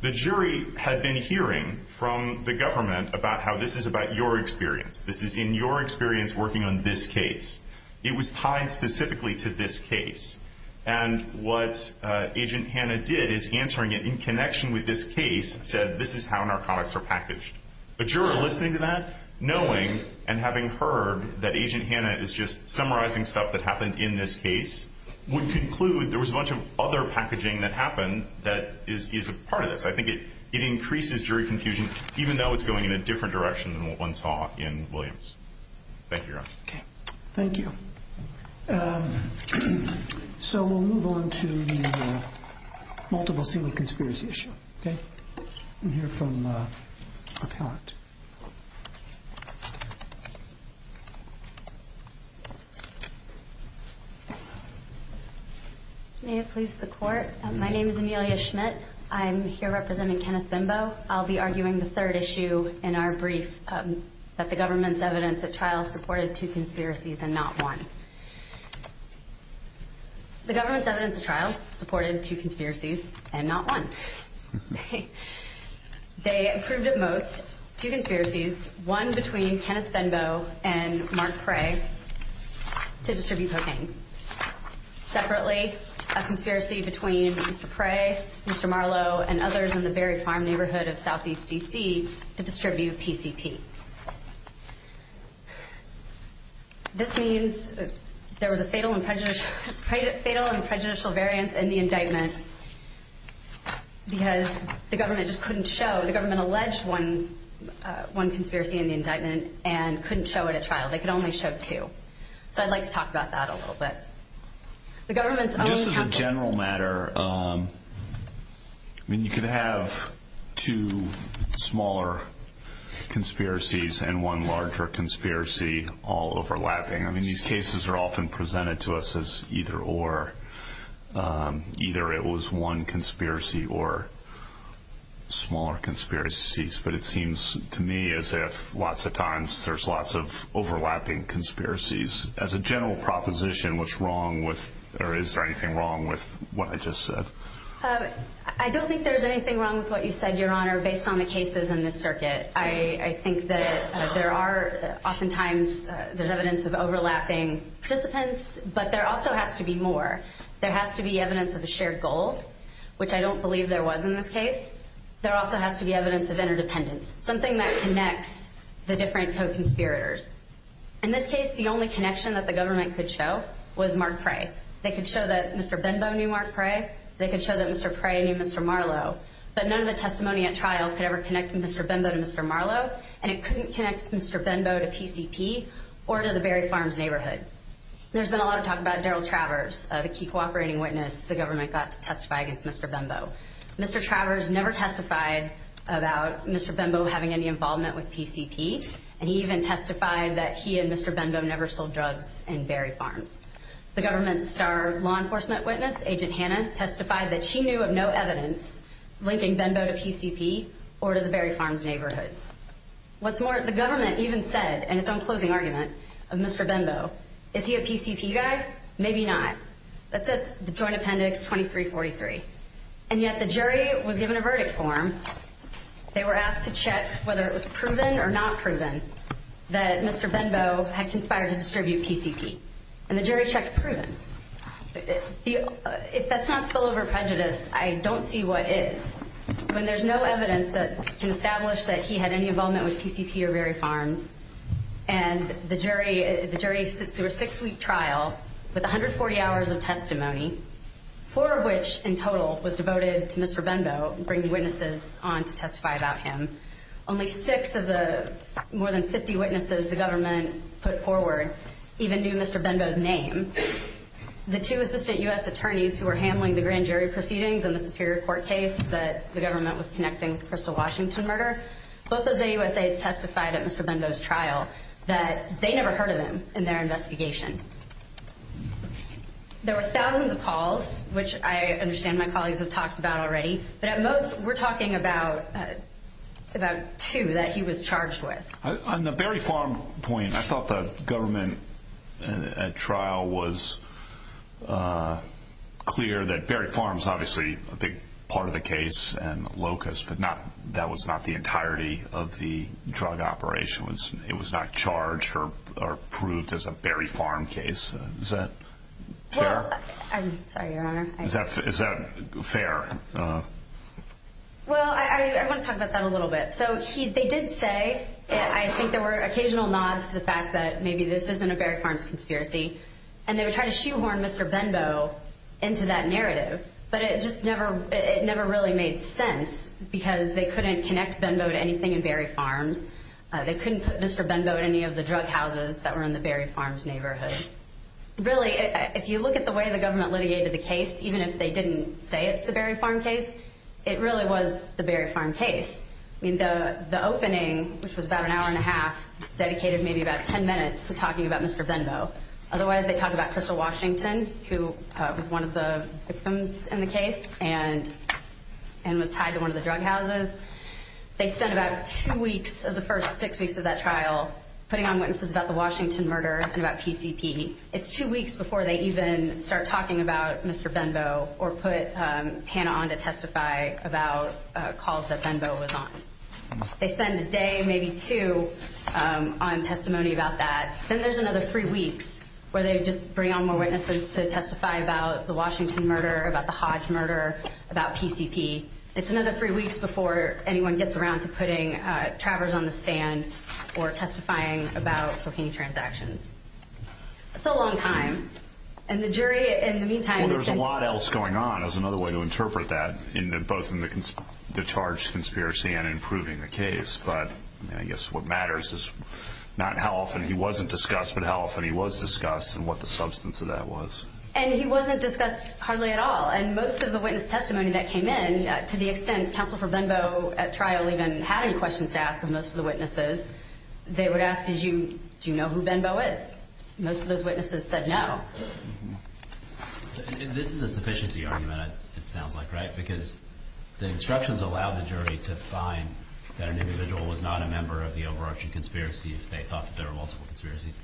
The jury had been hearing from the government about how this is about your experience. This is in your experience working on this case. It was tied specifically to this case. And what Agent Hanna did is answering it in connection with this case, said this is how narcotics are packaged. The juror listening to that, knowing and having heard that Agent Hanna is just summarizing stuff that happened in this case, would conclude there was a bunch of other packaging that happened that is a part of this. I think it increases jury confusion, even though it's going in a different direction than what one saw in Williams. Thank you. Thank you. So we'll move on to the multiple single conspirators issue. Okay. We'll hear from Pat. May I please support? My name is Amelia Schmidt. I'm here representing Kenneth Benbow. I'll be arguing the third issue in our brief, that the government's evidence of trials reported two conspiracies and not one. The government's evidence of trials reported two conspiracies and not one. Okay. They approved at most two conspiracies, one between Kenneth Benbow and Mark Pray to distribute cocaine. Separately, a conspiracy between Pray, Mr. Marlow, and others in the Berry Farm neighborhood of southeast D.C. to distribute PCP. This means there was a fatal and prejudicial variance in the indictment because the government just couldn't show. The government alleged one conspiracy in the indictment and couldn't show it at trial. They could only show two. So I'd like to talk about that a little bit. The government's only have two. I mean, you could have two smaller conspiracies and one larger conspiracy all overlapping. I mean, these cases are often presented to us as either or. Either it was one conspiracy or smaller conspiracies. But it seems to me as if lots of times there's lots of overlapping conspiracies. As a general proposition, what's wrong with or is there anything wrong with what I just said? I don't think there's anything wrong with what you said, Your Honor, based on the cases in this circuit. I think that there are oftentimes there's evidence of overlapping participants, but there also has to be more. There has to be evidence of a shared goal, which I don't believe there was in this case. There also has to be evidence of interdependence, something that connects the different co-conspirators. In this case, the only connection that the government could show was Mark Pray. They could show that Mr. Benbow knew Mark Pray. They could show that Mr. Pray knew Mr. Marlow. But none of the testimony at trial could ever connect Mr. Benbow to Mr. Marlow, and it couldn't connect Mr. Benbow to PCP or to the Berry Farms neighborhood. There's been a lot of talk about Darryl Travers, the key cooperating witness the government got to testify against Mr. Benbow. Mr. Travers never testified about Mr. Benbow having any involvement with PCP, and he even testified that he and Mr. Benbow never sold drugs in Berry Farms. The government's star law enforcement witness, Agent Hannah, testified that she knew of no evidence linking Benbow to PCP or to the Berry Farms neighborhood. What's more, the government even said in its own closing argument of Mr. Benbow, is he a PCP guy? Maybe not. That's the Joint Appendix 2343. And yet the jury was given a verdict form. They were asked to check whether it was proven or not proven that Mr. Benbow had conspired to distribute PCP. And the jury checked it was proven. If that's not spillover prejudice, I don't see what is. When there's no evidence that can establish that he had any involvement with PCP or Berry Farms, and the jury sits through a six-week trial with 140 hours of testimony, four of which, in total, was devoted to Mr. Benbow, bringing witnesses on to testify about him. Only six of the more than 50 witnesses the government put forward even knew Mr. Benbow's name. The two assistant U.S. attorneys who were handling the grand jury proceedings and the superior court case that the government was connecting to the Crystal Washington murder, both of them testified at Mr. Benbow's trial that they never heard of him in their investigation. There were thousands of calls, which I understand my colleagues have talked about already, but at most we're talking about two that he was charged with. On the Berry Farm point, I thought the government at trial was clear that Berry Farms, obviously, a big part of the case and Locust, but that was not the entirety of the drug operation. It was not charged or proved as a Berry Farm case. Is that fair? I'm sorry, Your Honor. Is that fair? Well, I want to talk about that a little bit. So they did say that I think there were occasional nods to the fact that maybe this isn't a Berry Farms conspiracy, and they were trying to shoehorn Mr. Benbow into that narrative, but it never really made sense because they couldn't connect Benbow to anything in Berry Farms. They couldn't put Mr. Benbow in any of the drug houses that were in the Berry Farms neighborhood. Really, if you look at the way the government litigated the case, even if they didn't say it's the Berry Farm case, it really was the Berry Farm case. The opening, which was about an hour and a half, dedicated maybe about ten minutes to talking about Mr. Benbow. Otherwise, they talk about Crystal Washington, who was one of the victims in the case and was tied to one of the drug houses. They spent about two weeks of the first six weeks of that trial putting on witnesses about the Washington murder and about PCP. It's two weeks before they even start talking about Mr. Benbow or put Hannah on to testify about calls that Benbow was on. They spend a day, maybe two, on testimony about that. Then there's another three weeks where they just bring on more witnesses to testify about the Washington murder, about the Hodge murder, about PCP. It's another three weeks before anyone gets around to putting trappers on the stand or testifying about cocaine transactions. It's a long time. The jury, in the meantime- There was a lot else going on, is another way to interpret that, both in the charge conspiracy and in proving the case. I guess what matters is not how often he wasn't discussed, but how often he was discussed and what the substance of that was. He wasn't discussed hardly at all. Most of the witness testimony that came in, to the extent Counsel for Benbow at trial even had any questions to ask of most of the witnesses, they would ask, do you know who Benbow is? Most of those witnesses said no. This is a sufficiency argument, it sounds like, right? Because the instructions allow the jury to find that an individual was not a member of the overarching conspiracy if they thought that there were multiple conspiracies.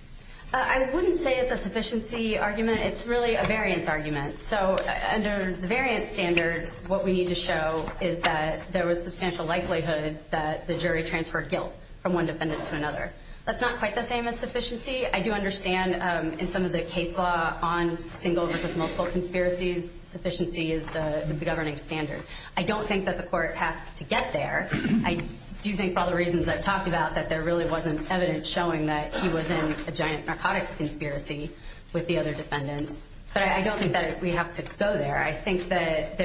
I wouldn't say it's a sufficiency argument. It's really a variance argument. So under the variance standard, what we need to show is that there was substantial likelihood that the jury transferred guilt from one defendant to another. That's not quite the same as sufficiency. I do understand in some of the case law on single and multiple conspiracies, sufficiency is the governing standard. I don't think that the court has to get there. I do think, for all the reasons I've talked about, that there really wasn't evidence showing that he was in a giant narcotics conspiracy with the other defendant. But I don't think that we have to go there. I think that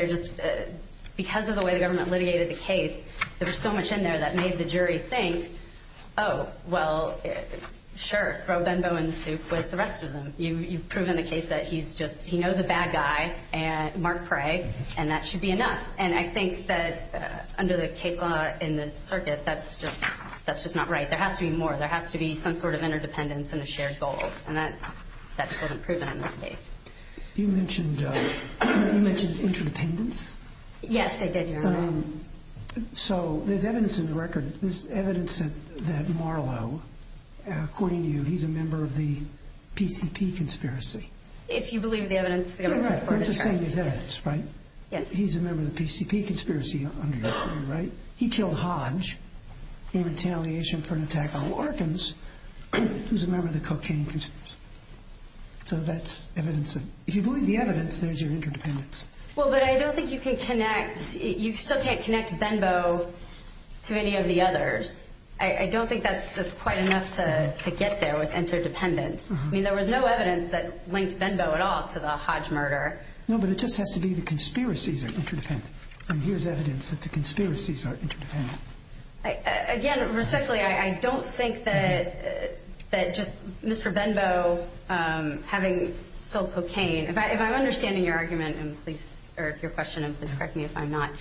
because of the way the government alleviated the case, there was so much in there that made the jury think, oh, well, sure, Benbow and Souk was the rest of them. You've proven the case that he knows a bad guy, Mark Craig, and that should be enough. And I think that under the CAIPA in the circuit, that's just not right. There has to be more. There has to be some sort of interdependence and a shared goal. And that doesn't prove it on this case. You mentioned interdependence? Yes, I did, Your Honor. So there's evidence in the record. There's evidence that Marlowe, according to you, he's a member of the PCP conspiracy. If you believe the evidence, we don't have to go to court. He's a member of the PCP conspiracy under your name, right? He killed Hodge in retaliation for an attack on Larkins. He's a member of the cocaine conspiracy. So that's evidence. If you believe the evidence, there's your interdependence. Well, but I don't think you can connect. You still can't connect Benbow to any of the others. I don't think that's quite enough to get there with interdependence. I mean, there was no evidence that linked Benbow at all to the Hodge murder. No, but it just has to be the conspiracies are interdependent. And here's evidence that the conspiracies are interdependent. Again, respectfully, I don't think that just Mr. Benbow having killed cocaine, if I'm understanding your argument, or if your question is, and correct me if I'm not,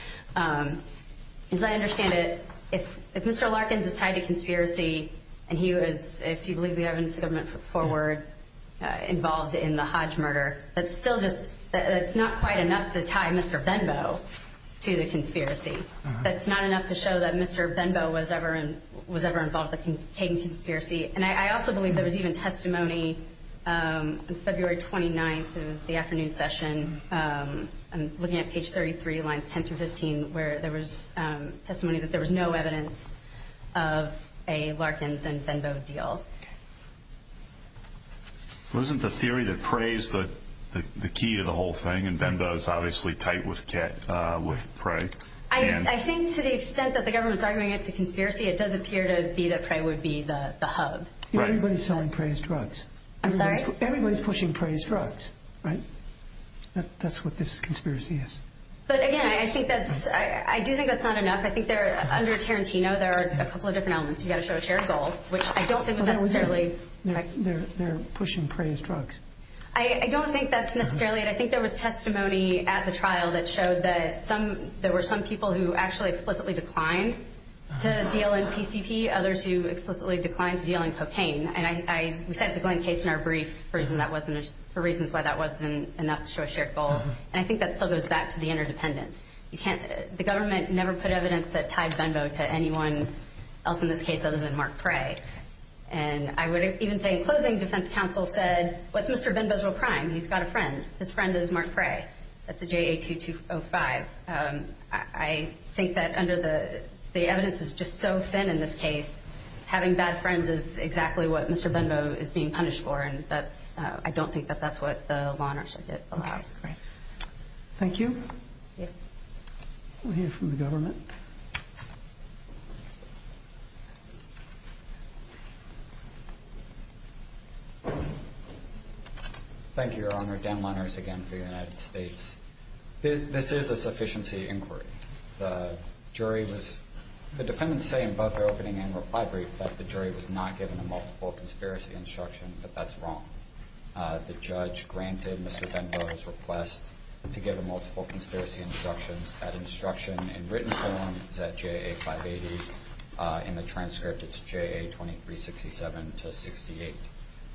as I understand it, if Mr. Larkins is tied to conspiracy and he was, if you believe the evidence, the government put forward involved in the Hodge murder, that's still just not quite enough to tie Mr. Benbow to the conspiracy. That's not enough to show that Mr. Benbow was ever involved in the cocaine conspiracy. And I also believe there was even testimony on February 29th in the afternoon session, looking at page 33, lines 10 through 15, where there was testimony that there was no evidence of a Larkins and Benbow deal. Okay. Wasn't the theory that Prey is the key to the whole thing, and Benbow is obviously tight with Prey? I think to the extent that the government's arguing it's a conspiracy, it doesn't appear to be that Prey would be the hub. Everybody's selling Prey's drugs. I'm sorry? Everybody's pushing Prey's drugs, right? That's what this conspiracy is. But again, I think that's, I do think that's not enough. I think there, under Tarantino, there are a couple of different elements. They're pushing Prey's drugs. I don't think that's necessarily it. I think there was testimony at the trial that showed that some, there were some people who actually explicitly declined to deal in PCP, others who explicitly declined to deal in cocaine. And we said at the going case in our brief for reasons why that wasn't enough to show a shared goal. And I think that still goes back to the interdependence. The government never put evidence that tied Benbow to anyone else in this case other than Mark Prey. And I would even say in closing, defense counsel said, what's Mr. Benbow's real crime? He's got a friend. His friend is Mark Prey. That's the JAQ-205. I think that under the, the evidence is just so thin in this case, having bad friends is exactly what Mr. Benbow is being punished for. And that's, I don't think that that's what the law should allow. Thank you. Yes. We'll hear from the government. Thank you, Your Honor. Dan Monters again for the United States. This is a sufficiency inquiry. The jury was, the defendants say in both their opening and reply brief that the jury was not given multiple conspiracy instructions, but that's wrong. The judge granted Mr. Benbow his request to give him multiple conspiracy instructions. That instruction in written form is at JA580. In the transcript, it's JA2367-68.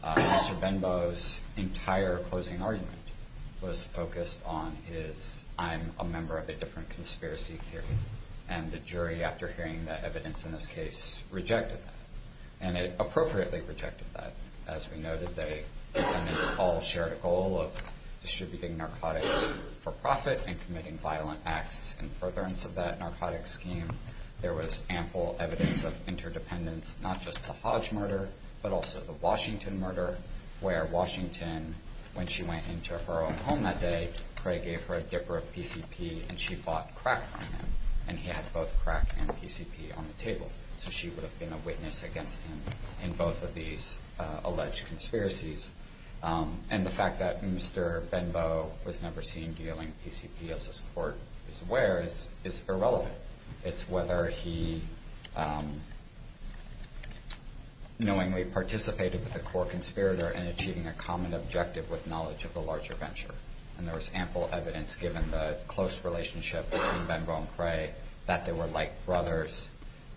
Mr. Benbow's entire closing argument was focused on his, I'm a member of a different conspiracy theory. And the jury, after hearing the evidence in this case, rejected that. And they appropriately rejected that. As we noted, they all shared a goal of distributing narcotics for profit and committing violent acts in furtherance of that narcotic scheme. There was ample evidence of interdependence, not just the Hodge murder, but also the Washington murder, where Washington, when she went into her own home that day, Craig gave her a dipper of PCP, and she bought crack from him. So she would have been a witness against him in both of these alleged conspiracies. And the fact that Mr. Benbow was never seen dealing PCP as his court is aware is irrelevant. It's whether he knowingly participated with a core conspirator and achieving a common objective with knowledge of a larger venture. And there was ample evidence, given the close relationship between Benbow and Craig, that they were like brothers,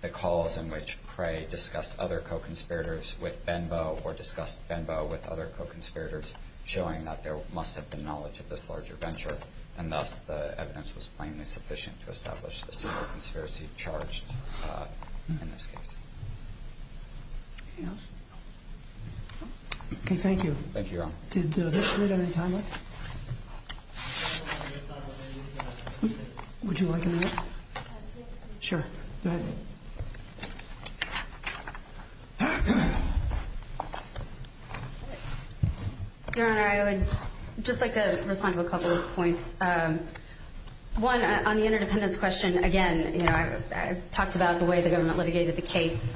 because in which Craig discussed other co-conspirators with Benbow or discussed Benbow with other co-conspirators, showing that there must have been knowledge of this larger venture. And thus, the evidence was plainly sufficient to establish the sort of conspiracy charged in this case. Anything else? Okay, thank you. Thank you. Do we have any time left? Would you like a minute? Sure. Go ahead. Your Honor, I would just like to respond to a couple of points. One, on the interdependence question, again, you know, I talked about the way the government litigated the case.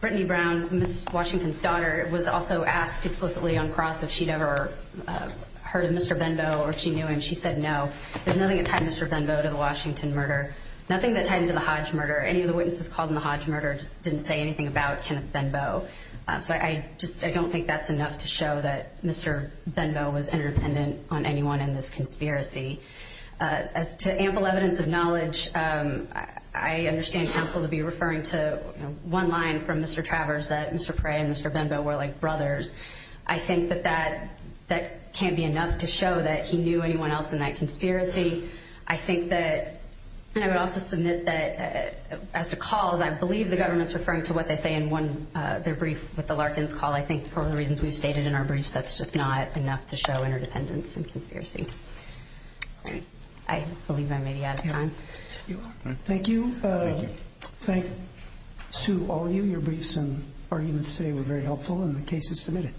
Brittany Brown, Ms. Washington's daughter, was also asked explicitly on cross if she'd ever heard of Mr. Benbow or if she knew him. She said no. There's nothing that tied Mr. Benbow to the Washington murder, nothing that tied him to the Hodge murder. Any of the witnesses called in the Hodge murder just didn't say anything about Kenneth Benbow. But I don't think that's enough to show that Mr. Benbow was interdependent on anyone in this conspiracy. As to ample evidence of knowledge, I understand counsel to be referring to one line from Mr. Travers that Mr. Prey and Mr. Benbow were like brothers. I think that that can't be enough to show that he knew anyone else in that conspiracy. I think that, and I would also submit that as a call, I believe the government's referring to what they say in one of their briefs with the Larkins call. I think for reasons we've stated in our briefs, that's just not enough to show interdependence in conspiracy. I believe I may be out of time. You're welcome. Thank you. Thank you. Sue, all of you, your briefs and arguments today were very helpful, and the case is submitted.